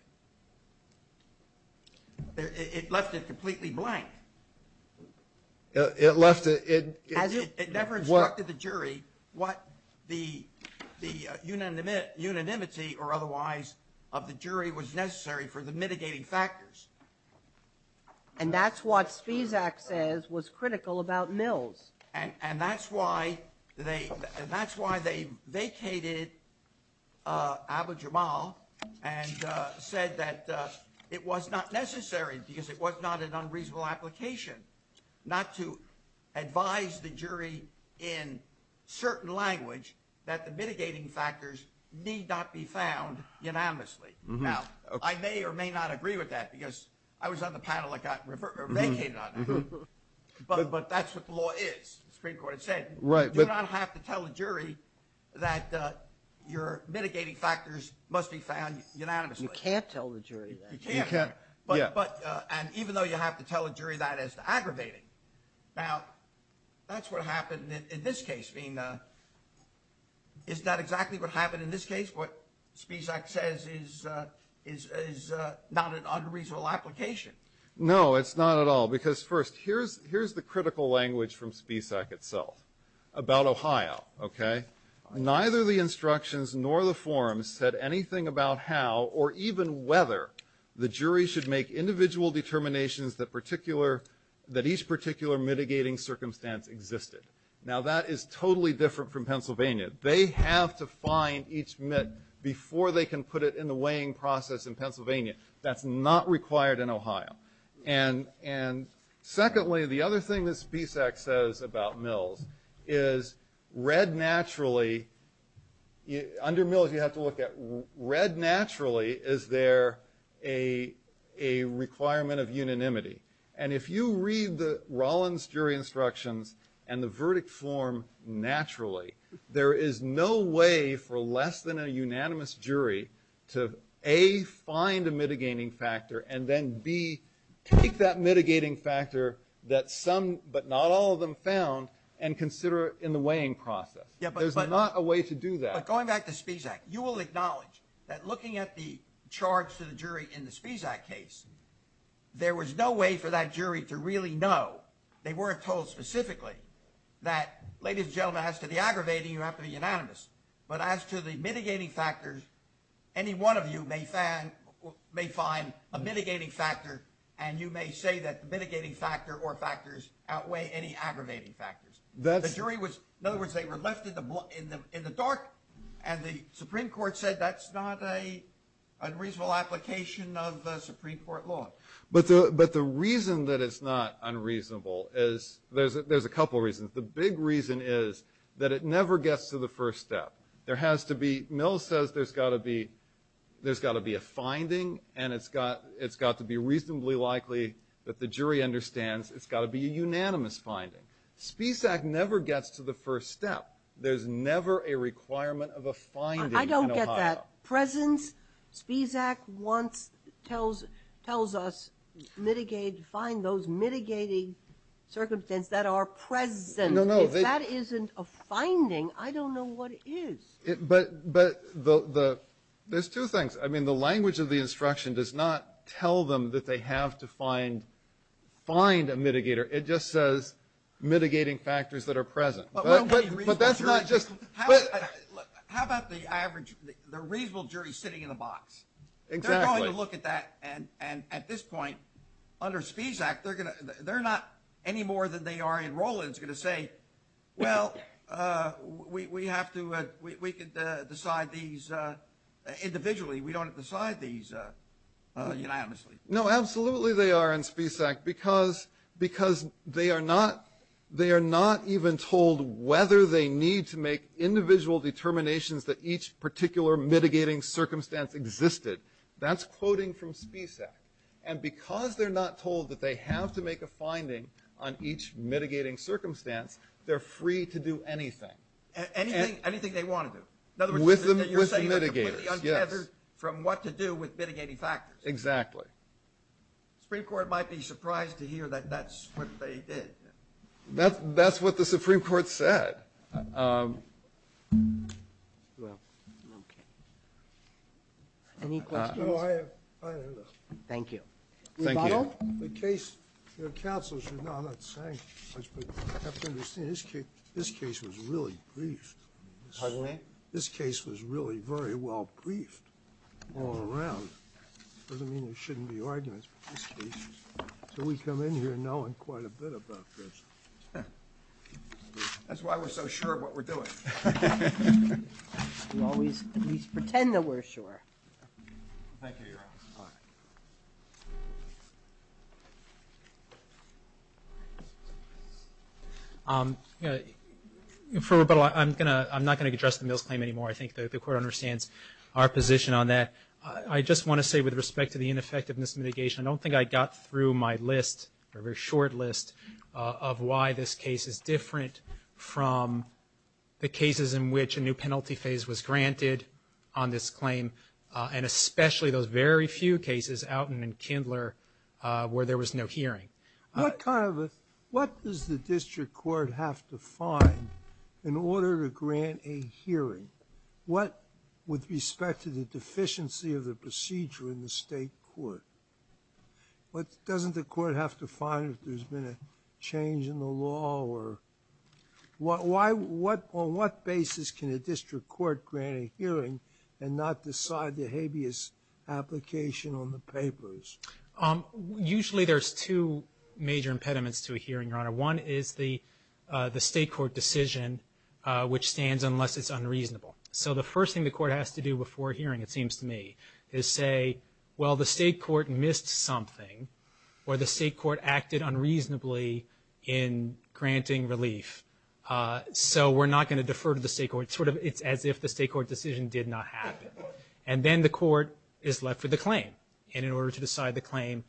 It left it completely blank. It left – it – unanimity or otherwise of the jury was necessary for the mitigating factors. And that's what CZAC says was critical about Mills. And that's why they – and that's why they vacated Abu Jamal and said that it was not necessary because it was not an unreasonable application, not to advise the jury in certain language that the mitigating factors need not be found unanimously. Now, I may or may not agree with that because I was on the panel that got vacated on that, but that's what the law is. The Supreme Court had said you do not have to tell the jury that your mitigating factors must be found unanimously. You can't tell the jury that. You can't. But – and even though you have to tell the jury that, it's aggravating. Now, that's what happened in this case. I mean, is that exactly what happened in this case? What CZAC says is not an unreasonable application. No, it's not at all. Because first, here's the critical language from CZAC itself about Ohio, okay? Neither the instructions nor the forms said anything about how or even whether the jury should make individual determinations that particular – that each particular mitigating circumstance existed. Now, that is totally different from Pennsylvania. They have to find each MIT before they can put it in the weighing process in Pennsylvania. That's not required in Ohio. And secondly, the other thing that CZAC says about Mills is red naturally – under Mills, you have to look at red naturally, is there a requirement of unanimity? And if you read the Rollins jury instructions and the verdict form naturally, there is no way for less than a unanimous jury to A, find a mitigating factor, and then B, take that mitigating factor that some but not all of them found and consider it in the weighing process. There's not a way to do that. Going back to CZAC, you will acknowledge that looking at the charge to the jury in the CZAC case, there was no way for that jury to really know. They weren't told specifically that, ladies and gentlemen, as to the aggravating, you have to be unanimous. But as to the mitigating factors, any one of you may find a mitigating factor, and you may say that the mitigating factor or factors outweigh any aggravating factors. The jury was – in other words, they were left in the dark, and the Supreme Court said that's not an unreasonable application of the Supreme Court law. But the reason that it's not unreasonable is – there's a couple reasons. The big reason is that it never gets to the first step. There has to be – Mills says there's got to be a finding, and it's got to be reasonably likely that the jury understands it's got to be a unanimous finding. CZAC never gets to the first step. There's never a requirement of a finding in Ohio. I don't get that. Presence – CZAC tells us find those mitigating circumstances that are present. If that isn't a finding, I don't know what is. But there's two things. I mean, the language of the instruction does not tell them that they have to find a mitigator. It just says mitigating factors that are present. But that's not just – but – MR KIRBY How about the average – the reasonable jury sitting in a box? SECRETARY KERRY Exactly. MR KIRBY They're going to look at that, and at this point, under SPECAC, they're going to – they're not, any more than they are in Roland's, going to say, well, we have to – we could decide these individually. We don't have to decide these unanimously. SECRETARY KERRY No, absolutely they are in SPECAC, because they are not – they are not even told whether they need to make individual determinations that each particular mitigating circumstance existed. That's quoting from SPECAC. And because they're not told that they have to make a finding on each mitigating circumstance, they're free to do anything. MR KIRBY Anything they want to do. SECRETARY KERRY With the mitigator. MR KIRBY You're saying they're completely untethered from what to do with mitigating factors. SECRETARY KERRY Exactly. MR KIRBY The Supreme Court might be surprised to hear that that's what they did. SECRETARY KERRY That's what the Supreme Court said. MR KIRBY Well. MR KIRBY Any questions? SECRETARY KERRY No, I have – I have nothing. MR KIRBY Thank you. MR KIRBY Thank you. MR KIRBY The case – your counsel should know what I'm saying, Mr. Secretary. You have to understand, this case was really briefed. MR KIRBY Pardon me? SECRETARY KERRY This case was really very well briefed all around. It doesn't mean there shouldn't be arguments, but this case – so we come in here knowing quite a bit about this. MR KIRBY That's why we're so sure of what we're doing. MR KIRBY You can always at least pretend that we're sure. MR KIRBY Thank you. MR KIRBY For rebuttal, I'm going to – I'm not going to address the Mills claim anymore. I think the Court understands our position on that. I just want to say, with respect to the ineffectiveness mitigation, I don't think I got through my list, a very short list, of why this case is different from the cases in which a new penalty phase was granted on this claim, and especially those very few cases – Outen and Kindler – where there was no hearing. What kind of a – what does the district court have to find in order to grant a hearing? What – with respect to the deficiency of the procedure in the state court, what – doesn't the court have to find if there's been a change in the law or – why – on what basis can a district court grant a hearing and not decide the habeas application on the papers? MR KIRBY Usually, there's two major impediments to a hearing, Your Honor. One is the state court decision, which stands unless it's unreasonable. So the first thing the court has to do before a hearing, it seems to me, is say, well, the state court missed something, or the state court acted unreasonably in granting relief, so we're not going to defer to the state court, sort of as if the state court decision did not happen. And then the court is left with a claim, and in order to decide the claim,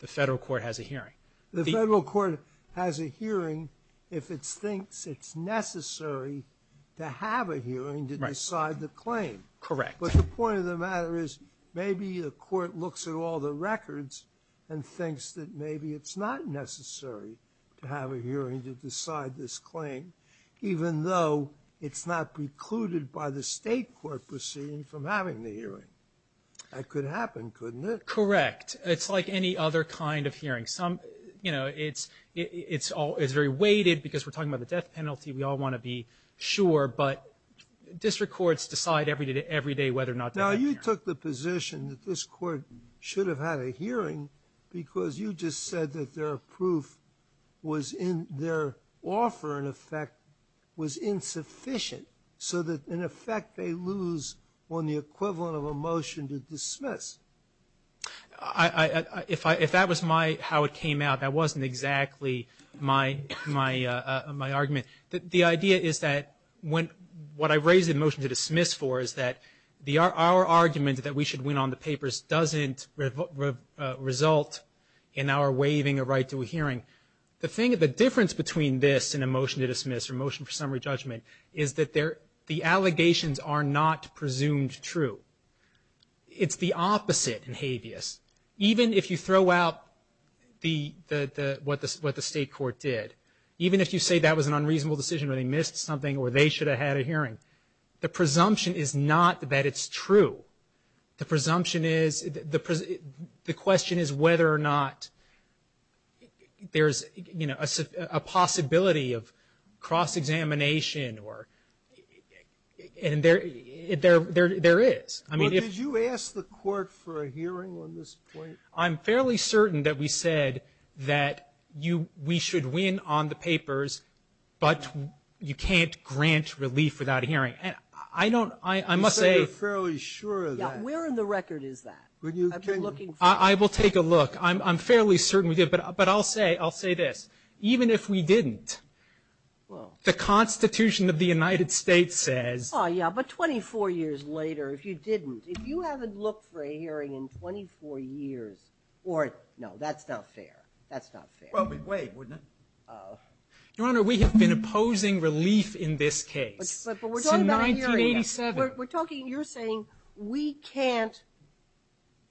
the federal court has a hearing. MR GOLDBERG The federal court has a hearing if it thinks it's necessary to have a hearing to decide the claim. MR KIRBY Correct. MR GOLDBERG But the point of the matter is maybe the court looks at all the records and thinks that maybe it's not necessary to have a hearing to decide this claim, even though it's not precluded by the state court proceeding from having the hearing. That could happen, couldn't it? MR KIRBY Correct. It's like any other kind of hearing. Some, you know, it's very weighted, because we're talking about the death penalty, we all want to be sure, but district courts decide every day whether or not to have a hearing. MR KIRBY Now, you took the position that this court should have had a hearing because you just said that their proof was in, their offer, in effect, was insufficient, so that in effect they lose on the equivalent of a motion to dismiss. MR GOLDBERG If that was my, how it came out, that wasn't exactly my argument. The idea is that when, what I raise a motion to dismiss for is that our argument that we should win on the papers doesn't result in our waiving a right to a hearing. The thing, the difference between this and a motion to dismiss or a motion for summary judgment is that the allegations are not presumed true. It's the opposite in habeas. Even if you throw out the, what the state court did, even if you say that was an unreasonable decision or they missed something or they should have had a hearing, the presumption is not that it's true. The presumption is, the question is whether or not there's, you know, a possibility of cross-examination or, and there, there is. MR KIRBY Well, did you ask the court for a hearing on this point? MR GOLDBERG I'm fairly certain that we said that you, we should win on the papers, but you can't grant relief without a hearing. I don't, I must say MR KIRBY I'm fairly sure of that. MR GOLDBERG Yeah, where in the record is that? MR KIRBY I will take a look. I'm fairly certain we did, but I'll say, I'll say this. Even if we didn't, the Constitution of the United States says MR KIRBY Oh yeah, but 24 years later, if you didn't, if you haven't looked for a hearing in 24 years, or, no, that's not fair. That's not fair. MR KIRBY Well, we'd waive, wouldn't it? MR GOLDBERG Your Honor, we have been opposing relief in this case. MR KIRBY But we're talking about a hearing, we're talking, you're saying, we can't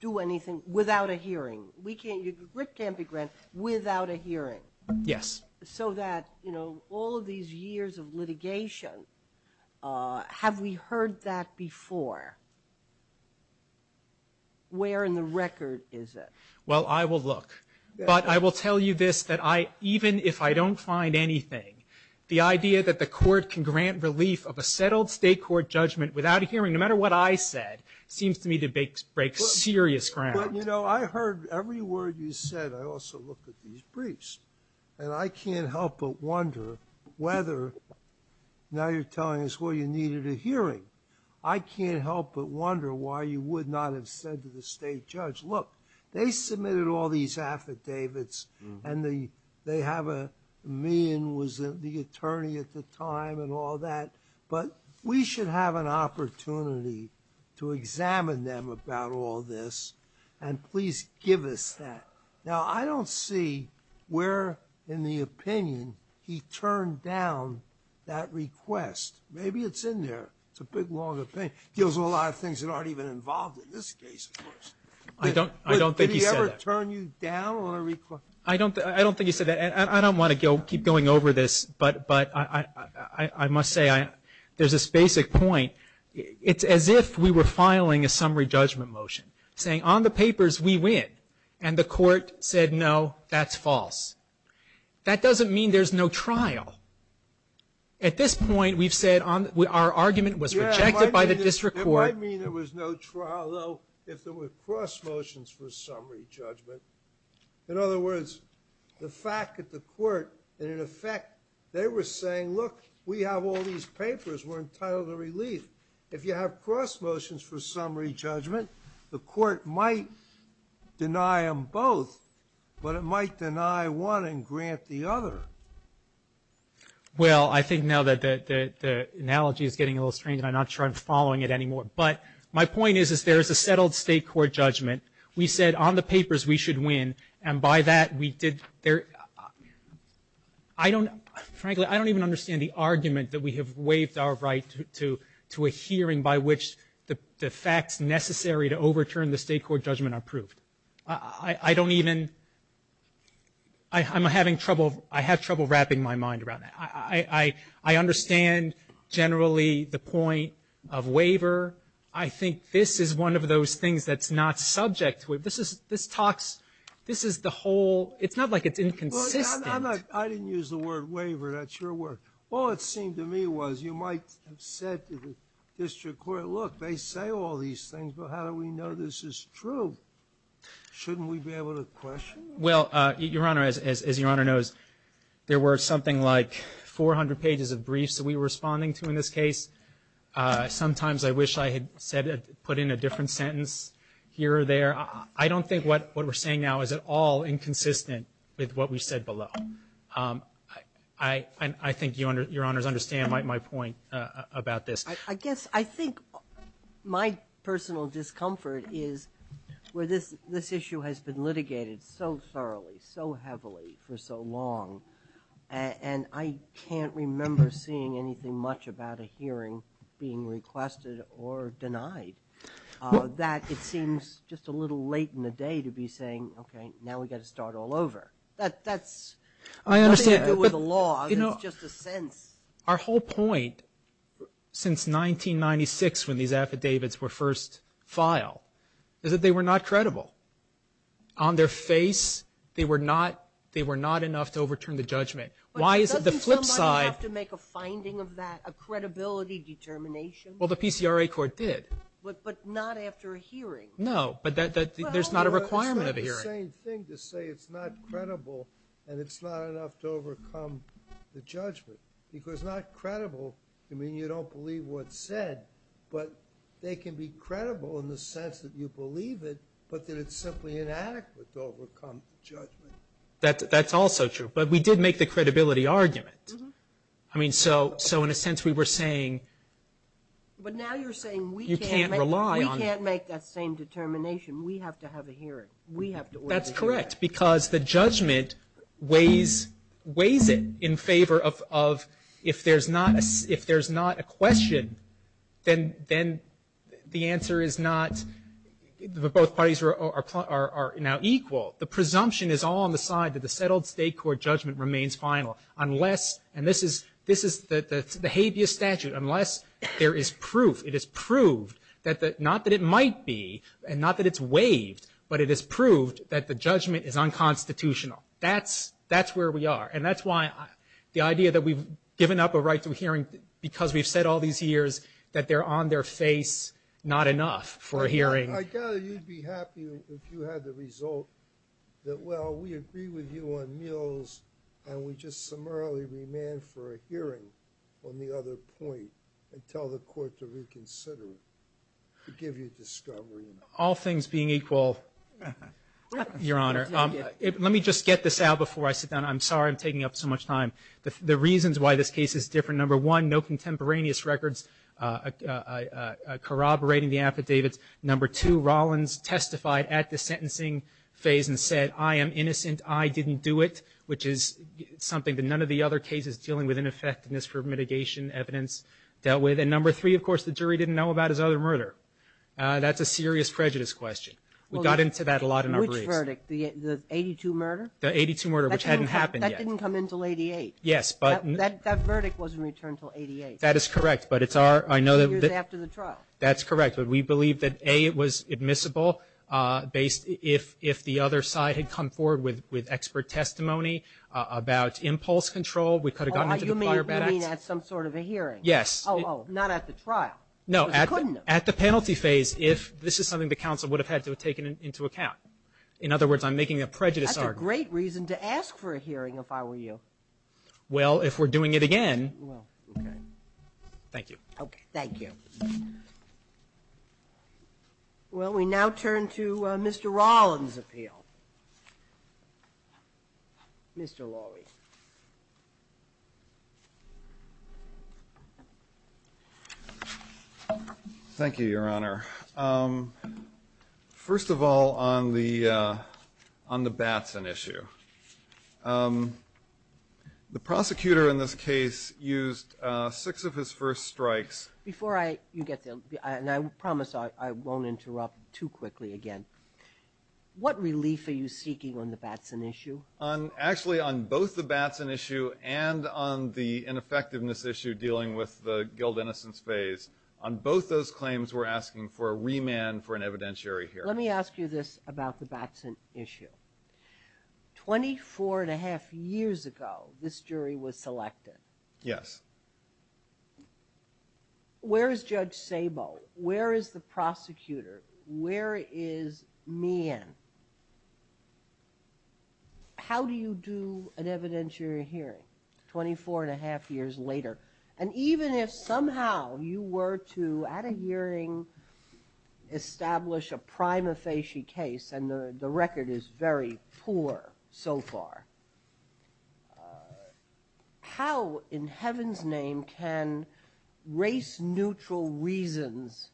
do anything without a hearing. We can't, Rick can't be granted without a hearing. MR KIRBY Yes. MR KIRBY So that, you know, all of these years of litigation, have we heard that before? Where in the record is it? MR KIRBY Well, I will look, but I will tell you this, that I, even if I don't find anything, the idea that the court can grant relief of a settled state court judgment without a hearing, no matter what I said, seems to me to break serious ground. MR KIRBY But, you know, I heard every word you said. I also looked at these briefs, and I can't help but wonder whether, now you're telling us, well, you needed a hearing. I can't help but wonder why you would not have said to the state judge, look, they submitted all these affidavits, and the, they have a, me was the attorney at the time, and all that, but we should have an opportunity to examine them about all this, and please give us that. Now, I don't see where, in the opinion, he turned down that request. Maybe it's in there. It's a big, long opinion. It deals with a lot of things that aren't even involved in this case. MR KIRBY I don't, I don't think he said that. MR KIRBY Did he ever turn you down on a request? MR KIRBY I don't, I don't think he said that. I don't want to go, keep going over this, but, but I, I, I must say, I, there's this basic point. It's as if we were filing a summary judgment motion, saying on the papers we win, and the court said no, that's false. That doesn't mean there's no trial. At this point, we've said on, our argument was rejected by the district court. MR KIRBY It might mean there was no trial, though, if there were cross motions for summary judgment. In other words, the fact that the court, in effect, they were saying, look, we have all these papers, we're entitled to release. If you have cross motions for summary judgment, the court might deny them both, but it might deny one and grant the other. MR KIRBY Well, I think now that the, the, the analogy is getting a little strange, and I'm not sure I'm following it anymore. But my point is, is there is a settled state court judgment. We said on the papers we should win, and by that we did, there, I don't, frankly, I don't even understand the argument that we have waived our right to, to a hearing by which the, the facts necessary to overturn the state court judgment are proved. I, I don't even, I, I'm having trouble, I have trouble wrapping my mind around that. I, I, I understand generally the point of waiver. I think this is one of those things that's not subject to it. This is, this talks, this is the whole, it's not like it's inconsistent. MR KIRBY I'm not, I didn't use the word waiver. That's your word. All it seemed to me was you might have said to the district court, look, they say all these things, but how do we know this is true? Shouldn't we be able to question? MR KIRBY Well, Your Honor, as, as Your Honor knows, there were something like 400 pages of briefs that we were responding to in this case. Sometimes I wish I had said, put in a different sentence here or there. I don't think what, what we're saying now is at all inconsistent with what we said below. I, I, I think Your Honor, Your Honor's understand my, my point about this. MR GOLDBERG I guess, I think my personal discomfort is where this, this issue has been litigated so thoroughly, so heavily for so long, and I can't remember seeing anything much about a hearing being requested or denied. That it seems just a little late in the day to be saying, okay, now we got to start all over. That, that's. MR KIRBY I understand. MR GOLDBERG It was a law. MR KIRBY You know, our whole point since 1996, when these affidavits were first filed, is that they were not credible. On their face, they were not, they were not enough to overturn the judgment. Why is that? MR GOLDBERG Doesn't somebody have to make a finding of that, a credibility determination? MR KIRBY Well, the PCRA court did. MR GOLDBERG But, but not after a hearing. MR KIRBY No, but that, that, there's not a requirement of a hearing. MR GOLDBERG Well, that's the same thing to say it's not credible, and it's not enough to overcome the judgment. Because not credible, I mean, you don't believe what's said, but they can be credible in the sense that you believe it, but that it's simply inadequate to overcome judgment. MR KIRBY That, that's also true. But we did make the credibility argument. I mean, so, so in a sense, we were saying. MR GOLDBERG But now you're saying we can't. MR KIRBY You can't rely on. MR GOLDBERG We can't make that same determination. We have to have a hearing. We have to. MR KIRBY That's correct, because the judgment weighs, weighs it in favor of, of if there's not, if there's not a question, then, then the answer is not, the both parties are, are, are now equal. The presumption is all on the side that the settled state court judgment remains final, unless, and this is, this is the, the habeas statute, unless there is proof, it is proved that the, not that it might be, and not that it's waived, but it is proved that the judgment is unconstitutional. That's, that's where we are. And that's why the idea that we've given up a right to a hearing because we've said all these years that they're on their face, not enough for a hearing. MR GOLDBERG I tell you, you'd be happy if you had the result that, well, we agree with you on meals and we just summarily remain for a hearing on the other point and tell the court to reconsider to give you discovery. MR KIRBY All things being equal, Your Honor, let me just get this out before I sit down. I'm sorry I'm taking up so much time. The reasons why this case is different, number one, no contemporaneous records corroborating the affidavits. Number two, Rollins testified at the sentencing phase and said, I am innocent, I didn't do it, which is something that none of the other cases dealing with ineffectiveness for mitigation evidence dealt with. And number three, of course, the jury didn't know about his other murder. That's a serious prejudice question. We got into that a lot in our brief. MS GOTTLIEB Which verdict, the 82 murder? MR KIRBY The 82 murder, which hadn't happened yet. MS GOTTLIEB That didn't come until 88. MR KIRBY Yes, but MS GOTTLIEB That verdict wasn't returned until 88. MR KIRBY That is correct. But it's our, I know that MS GOTTLIEB Two years after the trial. MR KIRBY That's correct. But we believe that A, it was admissible, based, if the other side had come forward with expert testimony about impulse control, we could have gotten to the fire baton. MS GOTTLIEB You mean at some sort of a hearing? MR KIRBY Yes. MS GOTTLIEB Oh, oh, not at the trial. MR KIRBY No, at the penalty phase, if this is something the counsel would have had to have taken into account. In other words, I'm making a prejudice argument. MS GOTTLIEB That's a great reason to ask for a hearing if I were you. MR KIRBY Well, if we're doing it again. MS GOTTLIEB Okay, thank you. Well, we now turn to Mr. Rollins' appeal. Mr. Lowy. MR LOWY Thank you, Your Honor. First of all, on the baton issue. The prosecutor in this case used six of his first strikes. MR KIRBY Before I, you get to, and I promise I won't interrupt too quickly again. What relief are you seeking on the baton issue? MR LOWY Actually, on both the baton issue and on the ineffectiveness issue dealing with the guild innocence phase, on both those claims we're asking for a remand for an evidentiary hearing. MR KIRBY Let me ask you this about the baton issue. Twenty-four and a half years ago, this jury was selected. MR LOWY Yes. MR KIRBY Where is Judge Sabo? Where is the prosecutor? Where is Meehan? How do you do an evidentiary hearing 24 and a half years later? And even if somehow you were to, at a hearing, establish a prima facie case, and the record is very poor so far, how in heaven's name can race-neutral reasons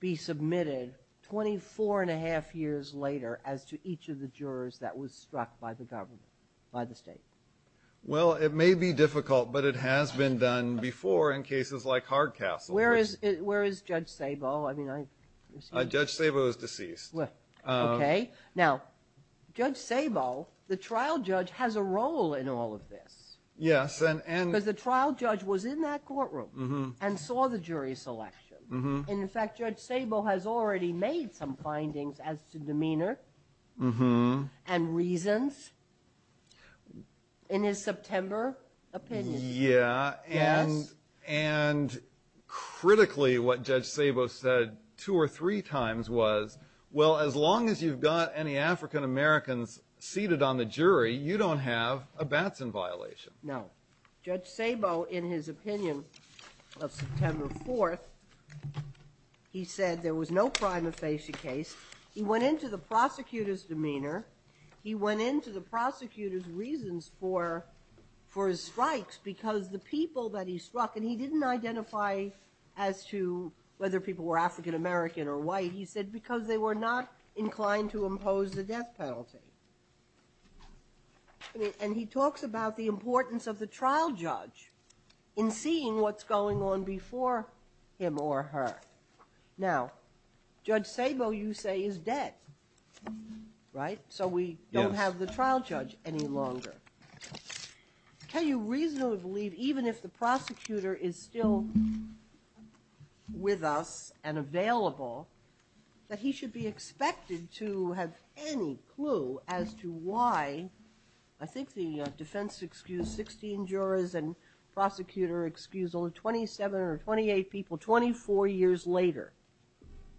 be submitted 24 and a half years later as to each of the jurors that was struck by the state? MR LOWY Well, it may be difficult, but it has been done before in cases like Hardcastle. MR KIRBY Where is Judge Sabo? MR LOWY Judge Sabo is deceased. MR KIRBY Okay. Now, Judge Sabo, the trial judge, has a role in all of this. MR LOWY Yes. MR KIRBY Because the trial judge was in that courtroom and saw the jury selection. And in fact, Judge Sabo has already made some findings as to demeanor and reasons in his September opinion. MR LOWY Yeah. And critically, what Judge Sabo said two or three times was, well, as long as you've got any African-Americans seated on the jury, you don't have a Batson violation. MR KIRBY No. Judge Sabo, in his opinion of September 4th, he said there was no prima facie case. He went into the prosecutor's demeanor. He went into the prosecutor's reasons for his strikes because the people that he struck, and he didn't identify as to whether people were African-American or white. He said because they were not inclined to impose the death penalty. And he talks about the importance of the trial judge in seeing what's going on before him or her. Now, Judge Sabo, you say, is dead, right? So we don't have the trial judge any longer. Can you reasonably believe, even if the prosecutor is still with us and available, that he should be expected to have any clue as to why, I think the defense excused 16 jurors and prosecutor excused only 27 or 28 people 24 years later,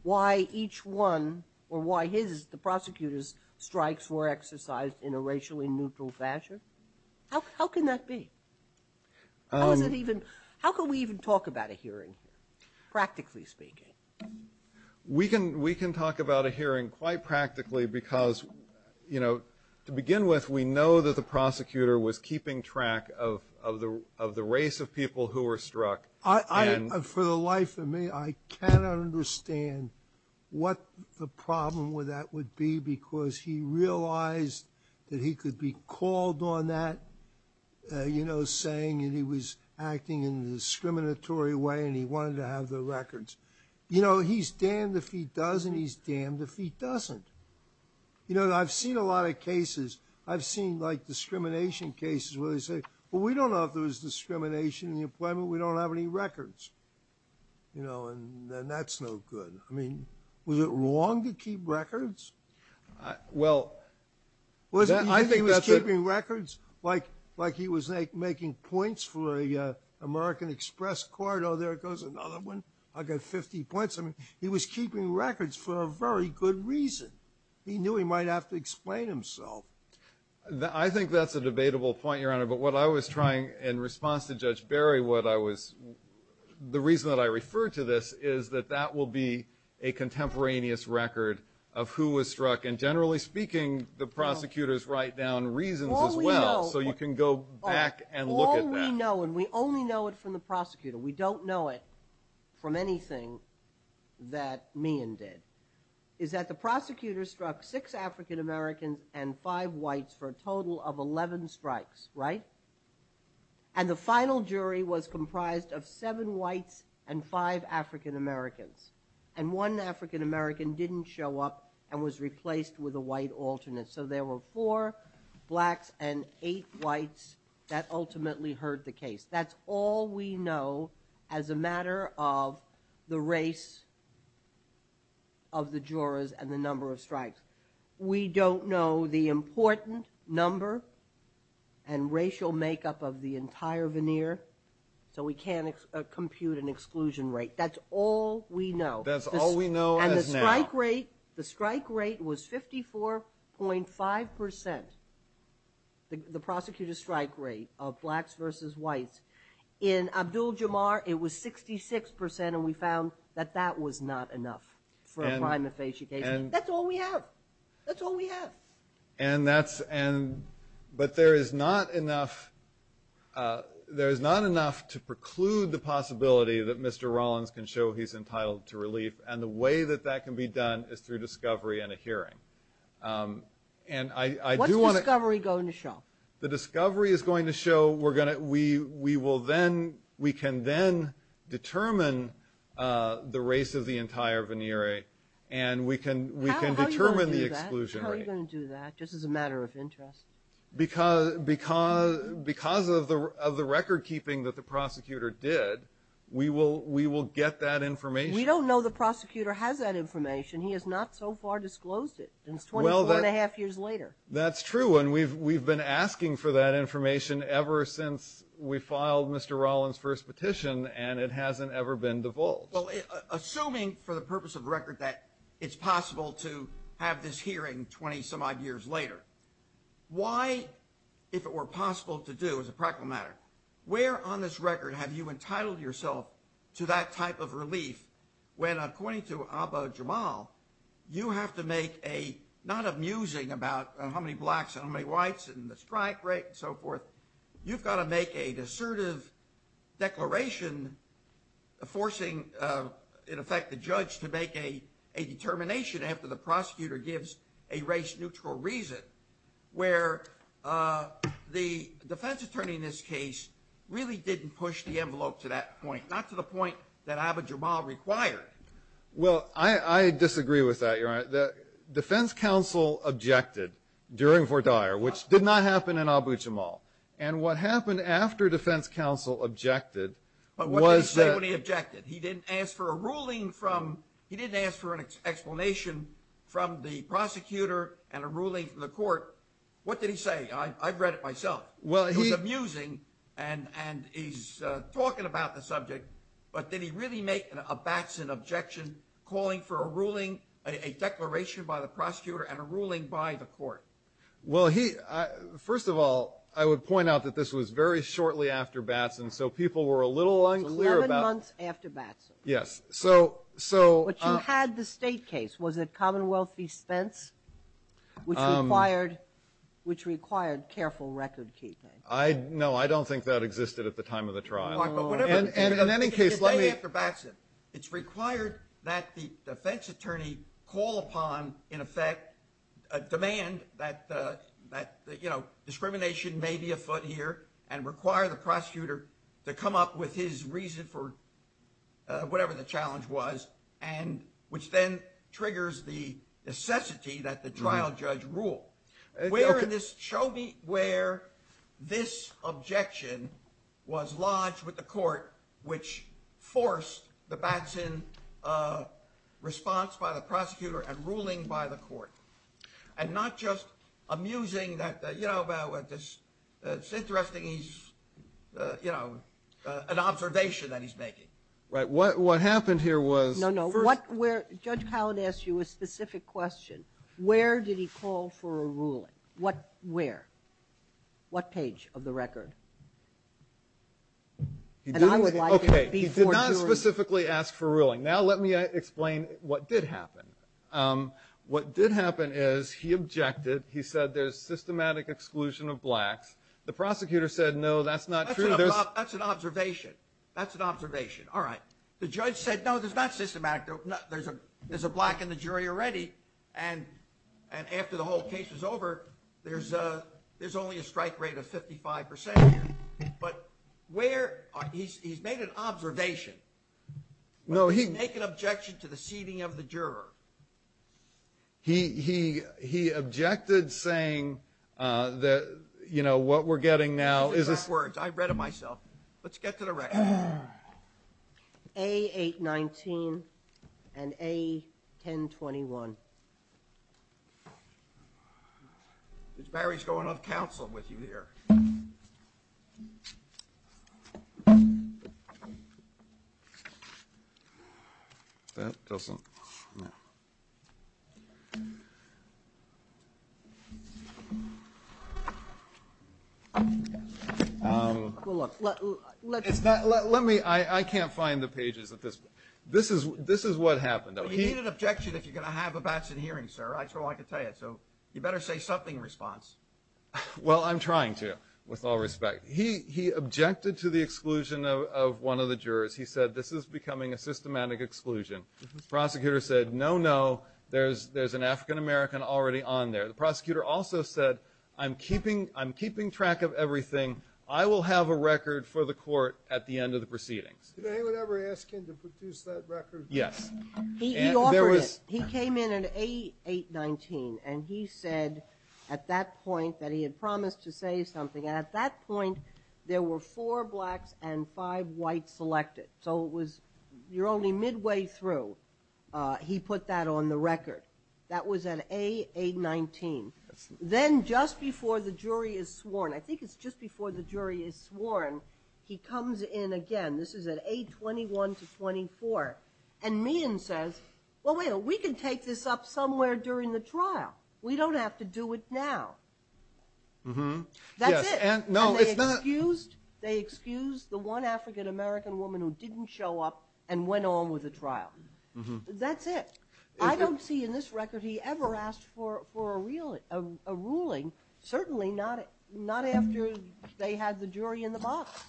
why each one or why his, the prosecutor's, strikes were exercised in a racially neutral fashion? How can that be? How can we even talk about a hearing, practically speaking? We can talk about a hearing quite practically because, you know, to begin with, we know that the prosecutor was keeping track of the race of people who were struck. For the life of me, I cannot understand what the problem with that would be because he realized that he could be called on that. You know, saying he was acting in a discriminatory way and he wanted to have the records. You know, he's damned if he does and he's damned if he doesn't. You know, I've seen a lot of cases. I've seen like discrimination cases where they say, well, we don't know if there was discrimination in the employment. We don't have any records, you know, and that's no good. I mean, was it wrong to keep records? Well, I think that's it. Wasn't he keeping records like he was making points for the American Express card? Oh, there goes another one. I got 50 points. I mean, he was keeping records for a very good reason. He knew he might have to explain himself. I think that's a debatable point, Your Honor, but what I was trying in response to Judge Barry, what I was, the reason that I refer to this is that that will be a contemporaneous record of who was struck and generally speaking, the prosecutors write down reasons as well, so you can go back and look at that. All we know, and we only know it from the prosecutor, we don't know it from anything that Meehan did, is that the prosecutor struck six African-Americans and five whites for a total of 11 strikes, right? And the final jury was comprised of seven whites and five African-Americans and one African-American didn't show up and was replaced with a white alternate. So there were four blacks and eight whites that ultimately heard the case. That's all we know as a matter of the race of the jurors and the number of strikes. We don't know the important number and racial makeup of the entire veneer, so we can't compute an exclusion rate. That's all we know. That's all we know. And the strike rate, the strike rate was 54.5 percent, the prosecutor's strike rate of blacks versus whites. In Abdul-Jamar, it was 66 percent and we found that that was not enough for a time of face you gave me. That's all we have. That's all we have. And that's, and, but there is not enough, there is not enough to preclude the possibility that Mr. Rollins can show he's entitled to relief and the way that that can be done is through discovery and a hearing. And I do want to. What's the discovery going to show? The discovery is going to show we're going to, we will then, we can then determine the race of the entire veneer rate and we can, we can determine the exclusion rate. How are you going to do that? Just as a matter of interest. Because, because, because of the, of the record keeping that the prosecutor did, we will, we will get that information. You don't know the prosecutor has that information. He has not so far disclosed it since 24 and a half years later. That's true. And we've, we've been asking for that information ever since we filed Mr. Rollins' first petition and it hasn't ever been divulged. Well, assuming for the purpose of record that it's possible to have this hearing 20 some odd years later, why, if it were possible to do as a practical matter, where on this record have you entitled yourself to that type of relief when according to Abba Jamal, you have to make a, not a musing about how many blacks and how many whites and the strike rate and so forth. You've got to make a decertive declaration forcing, in effect, the judge to make a, a determination after the prosecutor gives a race neutral reason where the defense attorney in this case really didn't push the envelope to that point. Not to the point that Abba Jamal required. Well, I, I disagree with that, Your Honor. The defense counsel objected during Fort Dyer, which did not happen in Abba Jamal. And what happened after defense counsel objected was that... But what did he say when he objected? He didn't ask for a ruling from... He didn't ask for an explanation from the prosecutor and a ruling from the court. What did he say? I, I've read it myself. Well, he... He was musing and, and he's talking about the subject. But did he really make a Batson objection calling for a ruling, a declaration by the prosecutor and a ruling by the court? Well, he... First of all, I would point out that this was very shortly after Batson. So people were a little unclear about... Months after Batson. Yes. So, so... But you had the state case. Was it Commonwealth East Fence? Which required, which required careful record keeping. I, no, I don't think that existed at the time of the trial. Mark, but whatever... And, and in any case, let me... The day after Batson. It's required that the defense attorney call upon, in effect, a demand that, that, you know, discrimination may be afoot here and require the prosecutor to come up with his reason for whatever the challenge was. And which then triggers the necessity that the trial judge rule. Where in this... Show me where this objection was lodged with the court, which forced the Batson response by the prosecutor and ruling by the court. And not just amusing that, you know, about this. It's interesting, he's, you know, an observation that he's making. Right. What, what happened here was... No, no. What, where... Judge Howard asked you a specific question. Where did he call for a ruling? What, where? What page of the record? And I would like... Okay. He did not specifically ask for a ruling. Now let me explain what did happen. What did happen is he objected. He said there's systematic exclusion of blacks. The prosecutor said, no, that's not true. That's an observation. That's an observation. All right. The judge said, no, there's not systematic. There's a black in the jury already. And, and after the whole case is over, there's a, there's only a strike rate of 55%. But where, he's made an observation. No, he... Make an objection to the seating of the juror. He, he, he objected saying that, you know, what we're getting now is... I've read the first words. I've read it myself. Let's get to the record. A819 and A1021. Judge Barry's going on counsel with you here. That doesn't... Um... Let me, I, I can't find the pages of this. This is, this is what happened. He made an objection that you're going to have a batch in hearing, sir. I just don't like to say it. So you better say something in response. Well, I'm trying to, with all respect. He, he objected to the exclusion of, of one of the jurors. He said this is becoming a systematic exclusion. Prosecutor said, no, no. There's, there's an African American already on there. The prosecutor also said, I'm keeping, I'm keeping track of everything. I will have a record for the court at the end of the proceeding. Did anyone ever ask him to produce that record? Yes. He, he offered it. He came in an A819 and he said at that point that he had promised to say something. And at that point, there were four blacks and five whites elected. So it was, you're only midway through. He put that on the record. That was an A819. Then just before the jury is sworn, I think it's just before the jury is sworn. He comes in again. This is an A21 to 24. And Meehan says, well, wait a minute. We can take this up somewhere during the trial. We don't have to do it now. That's it. And they excused, they excused the one African American woman who didn't show up and went on with the trial. That's it. I don't see in this record he ever asked for, for a ruling. Certainly not, not after they had the jury in the box.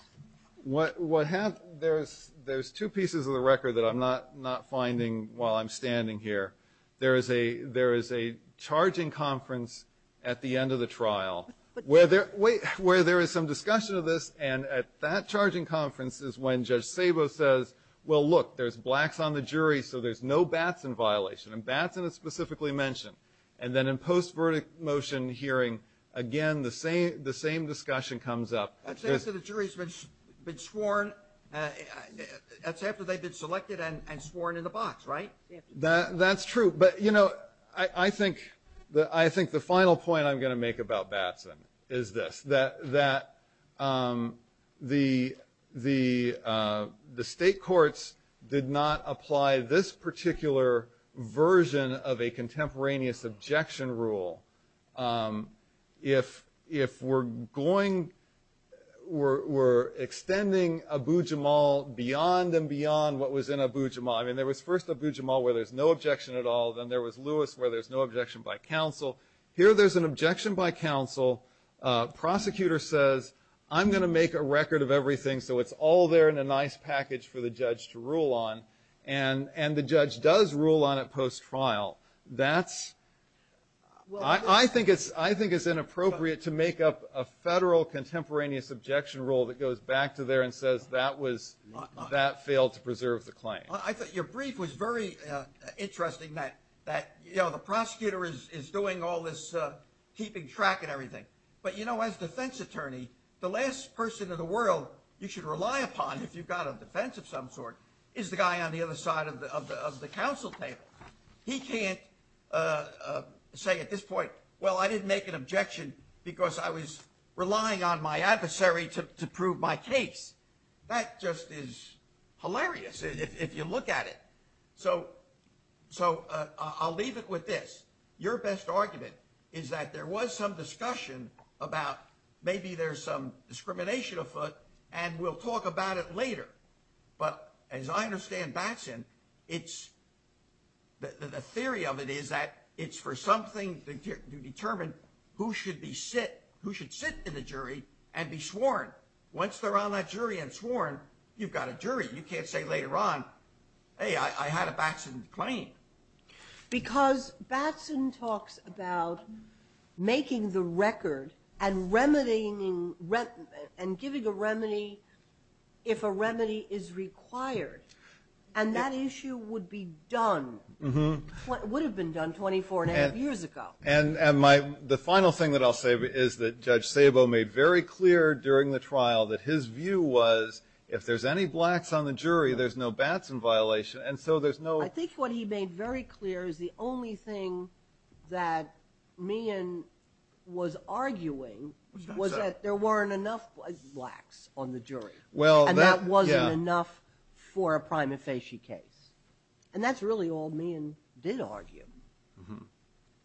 What happened, there's, there's two pieces of the record that I'm not, not finding while I'm standing here. There is a, there is a charging conference at the end of the trial where there, where there is some discussion of this. And at that charging conference is when Judge Sabo says, well, look, there's blacks on the jury, so there's no Batson violation. And Batson is specifically mentioned. And then in post-verdict motion hearing, again, the same, the same discussion comes up. That's after the jury's been sworn. That's after they've been selected and sworn in the box, right? That's true. But, you know, I, I think the, I think the final point I'm going to make about Batson is this, that, that the, the, the state courts did not apply this particular version of a contemporaneous objection rule. If, if we're going, we're, we're extending Abu-Jamal beyond and beyond what was in Abu-Jamal. I mean, there was first Abu-Jamal where there's no objection at all. Then there was Lewis where there's no objection by counsel. Here there's an objection by counsel. Prosecutor says, I'm going to make a record of everything so it's all there in a nice package for the judge to rule on. And, and the judge does rule on it post-trial. That's, I, I think it's, I think it's inappropriate to make up a federal contemporaneous objection rule that goes back to there and says that was, that failed to preserve the claim. I thought your brief was very interesting that, that, you know, the prosecutor is, is doing all this keeping track and everything, but you know, as defense attorney, the last person in the world you should rely upon if you've got a defense of some sort is the guy on the other side of the, of the, of the counsel table. He can't say at this point, well, I didn't make an objection because I was relying on my adversary to prove my case. That just is hilarious if you look at it. So, so I'll leave it with this. Your best argument is that there was some discussion about maybe there's some discrimination afoot and we'll talk about it later. But as I understand Batson, it's, the theory of it is that it's for something to determine who should be sit, who should sit in the jury and be sworn. Once they're on that jury and sworn, you've got a jury. You can't say later on, hey, I had a Batson claim. Because Batson talks about making the record and remedying and giving a remedy if a remedy is required. And that issue would be done, would have been done 24 and a half years ago. And, and my, the final thing that I'll say is that Judge Sabo made very clear during the trial that his view was if there's any blacks on the jury, there's no Batson violation. And so there's no. I think what he made very clear is the only thing that Meehan was arguing was that there weren't enough blacks on the jury. Well, and that wasn't enough for a prima facie case. And that's really all Meehan did argue.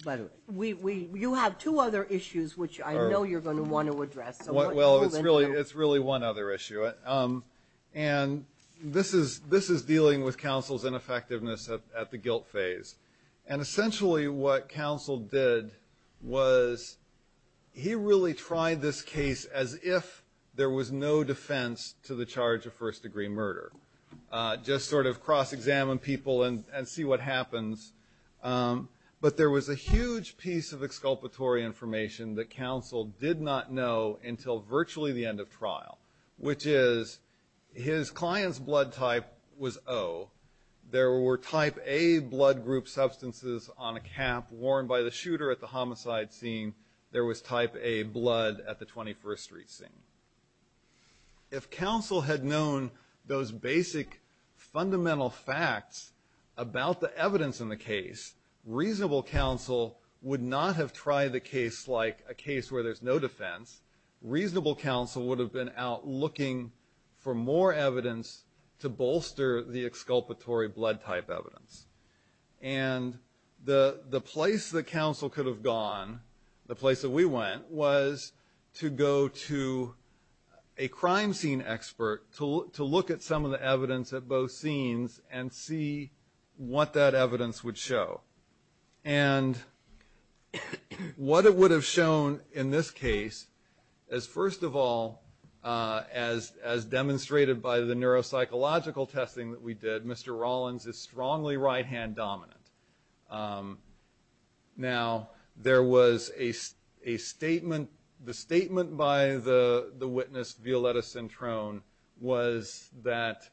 But we, we, you have two other issues, which I know you're going to want to address. Well, it's really, it's really one other issue. And this is, this is dealing with counsel's ineffectiveness at the guilt phase. And essentially what counsel did was he really tried this case as if there was no defense to the charge of first degree murder. Just sort of cross-examine people and see what happens. But there was a huge piece of exculpatory information that counsel did not know until virtually the end of trial, which is his client's blood type was O. There were type A blood group substances on a cap worn by the shooter at the homicide scene. There was type A blood at the 21st Street scene. And if counsel had known those basic fundamental facts about the evidence in the case, reasonable counsel would not have tried a case like a case where there's no defense. Reasonable counsel would have been out looking for more evidence to bolster the exculpatory blood type evidence. And the place that counsel could have gone, the place that we went, was to go to a crime scene expert to look at some of the evidence at both scenes and see what that evidence would show. And what it would have shown in this case is first of all, as demonstrated by the neuropsychological testing that we did, Mr. Rollins is strongly right-hand dominant. Now, there was a statement, the statement by the witness, Violetta Centrone, was that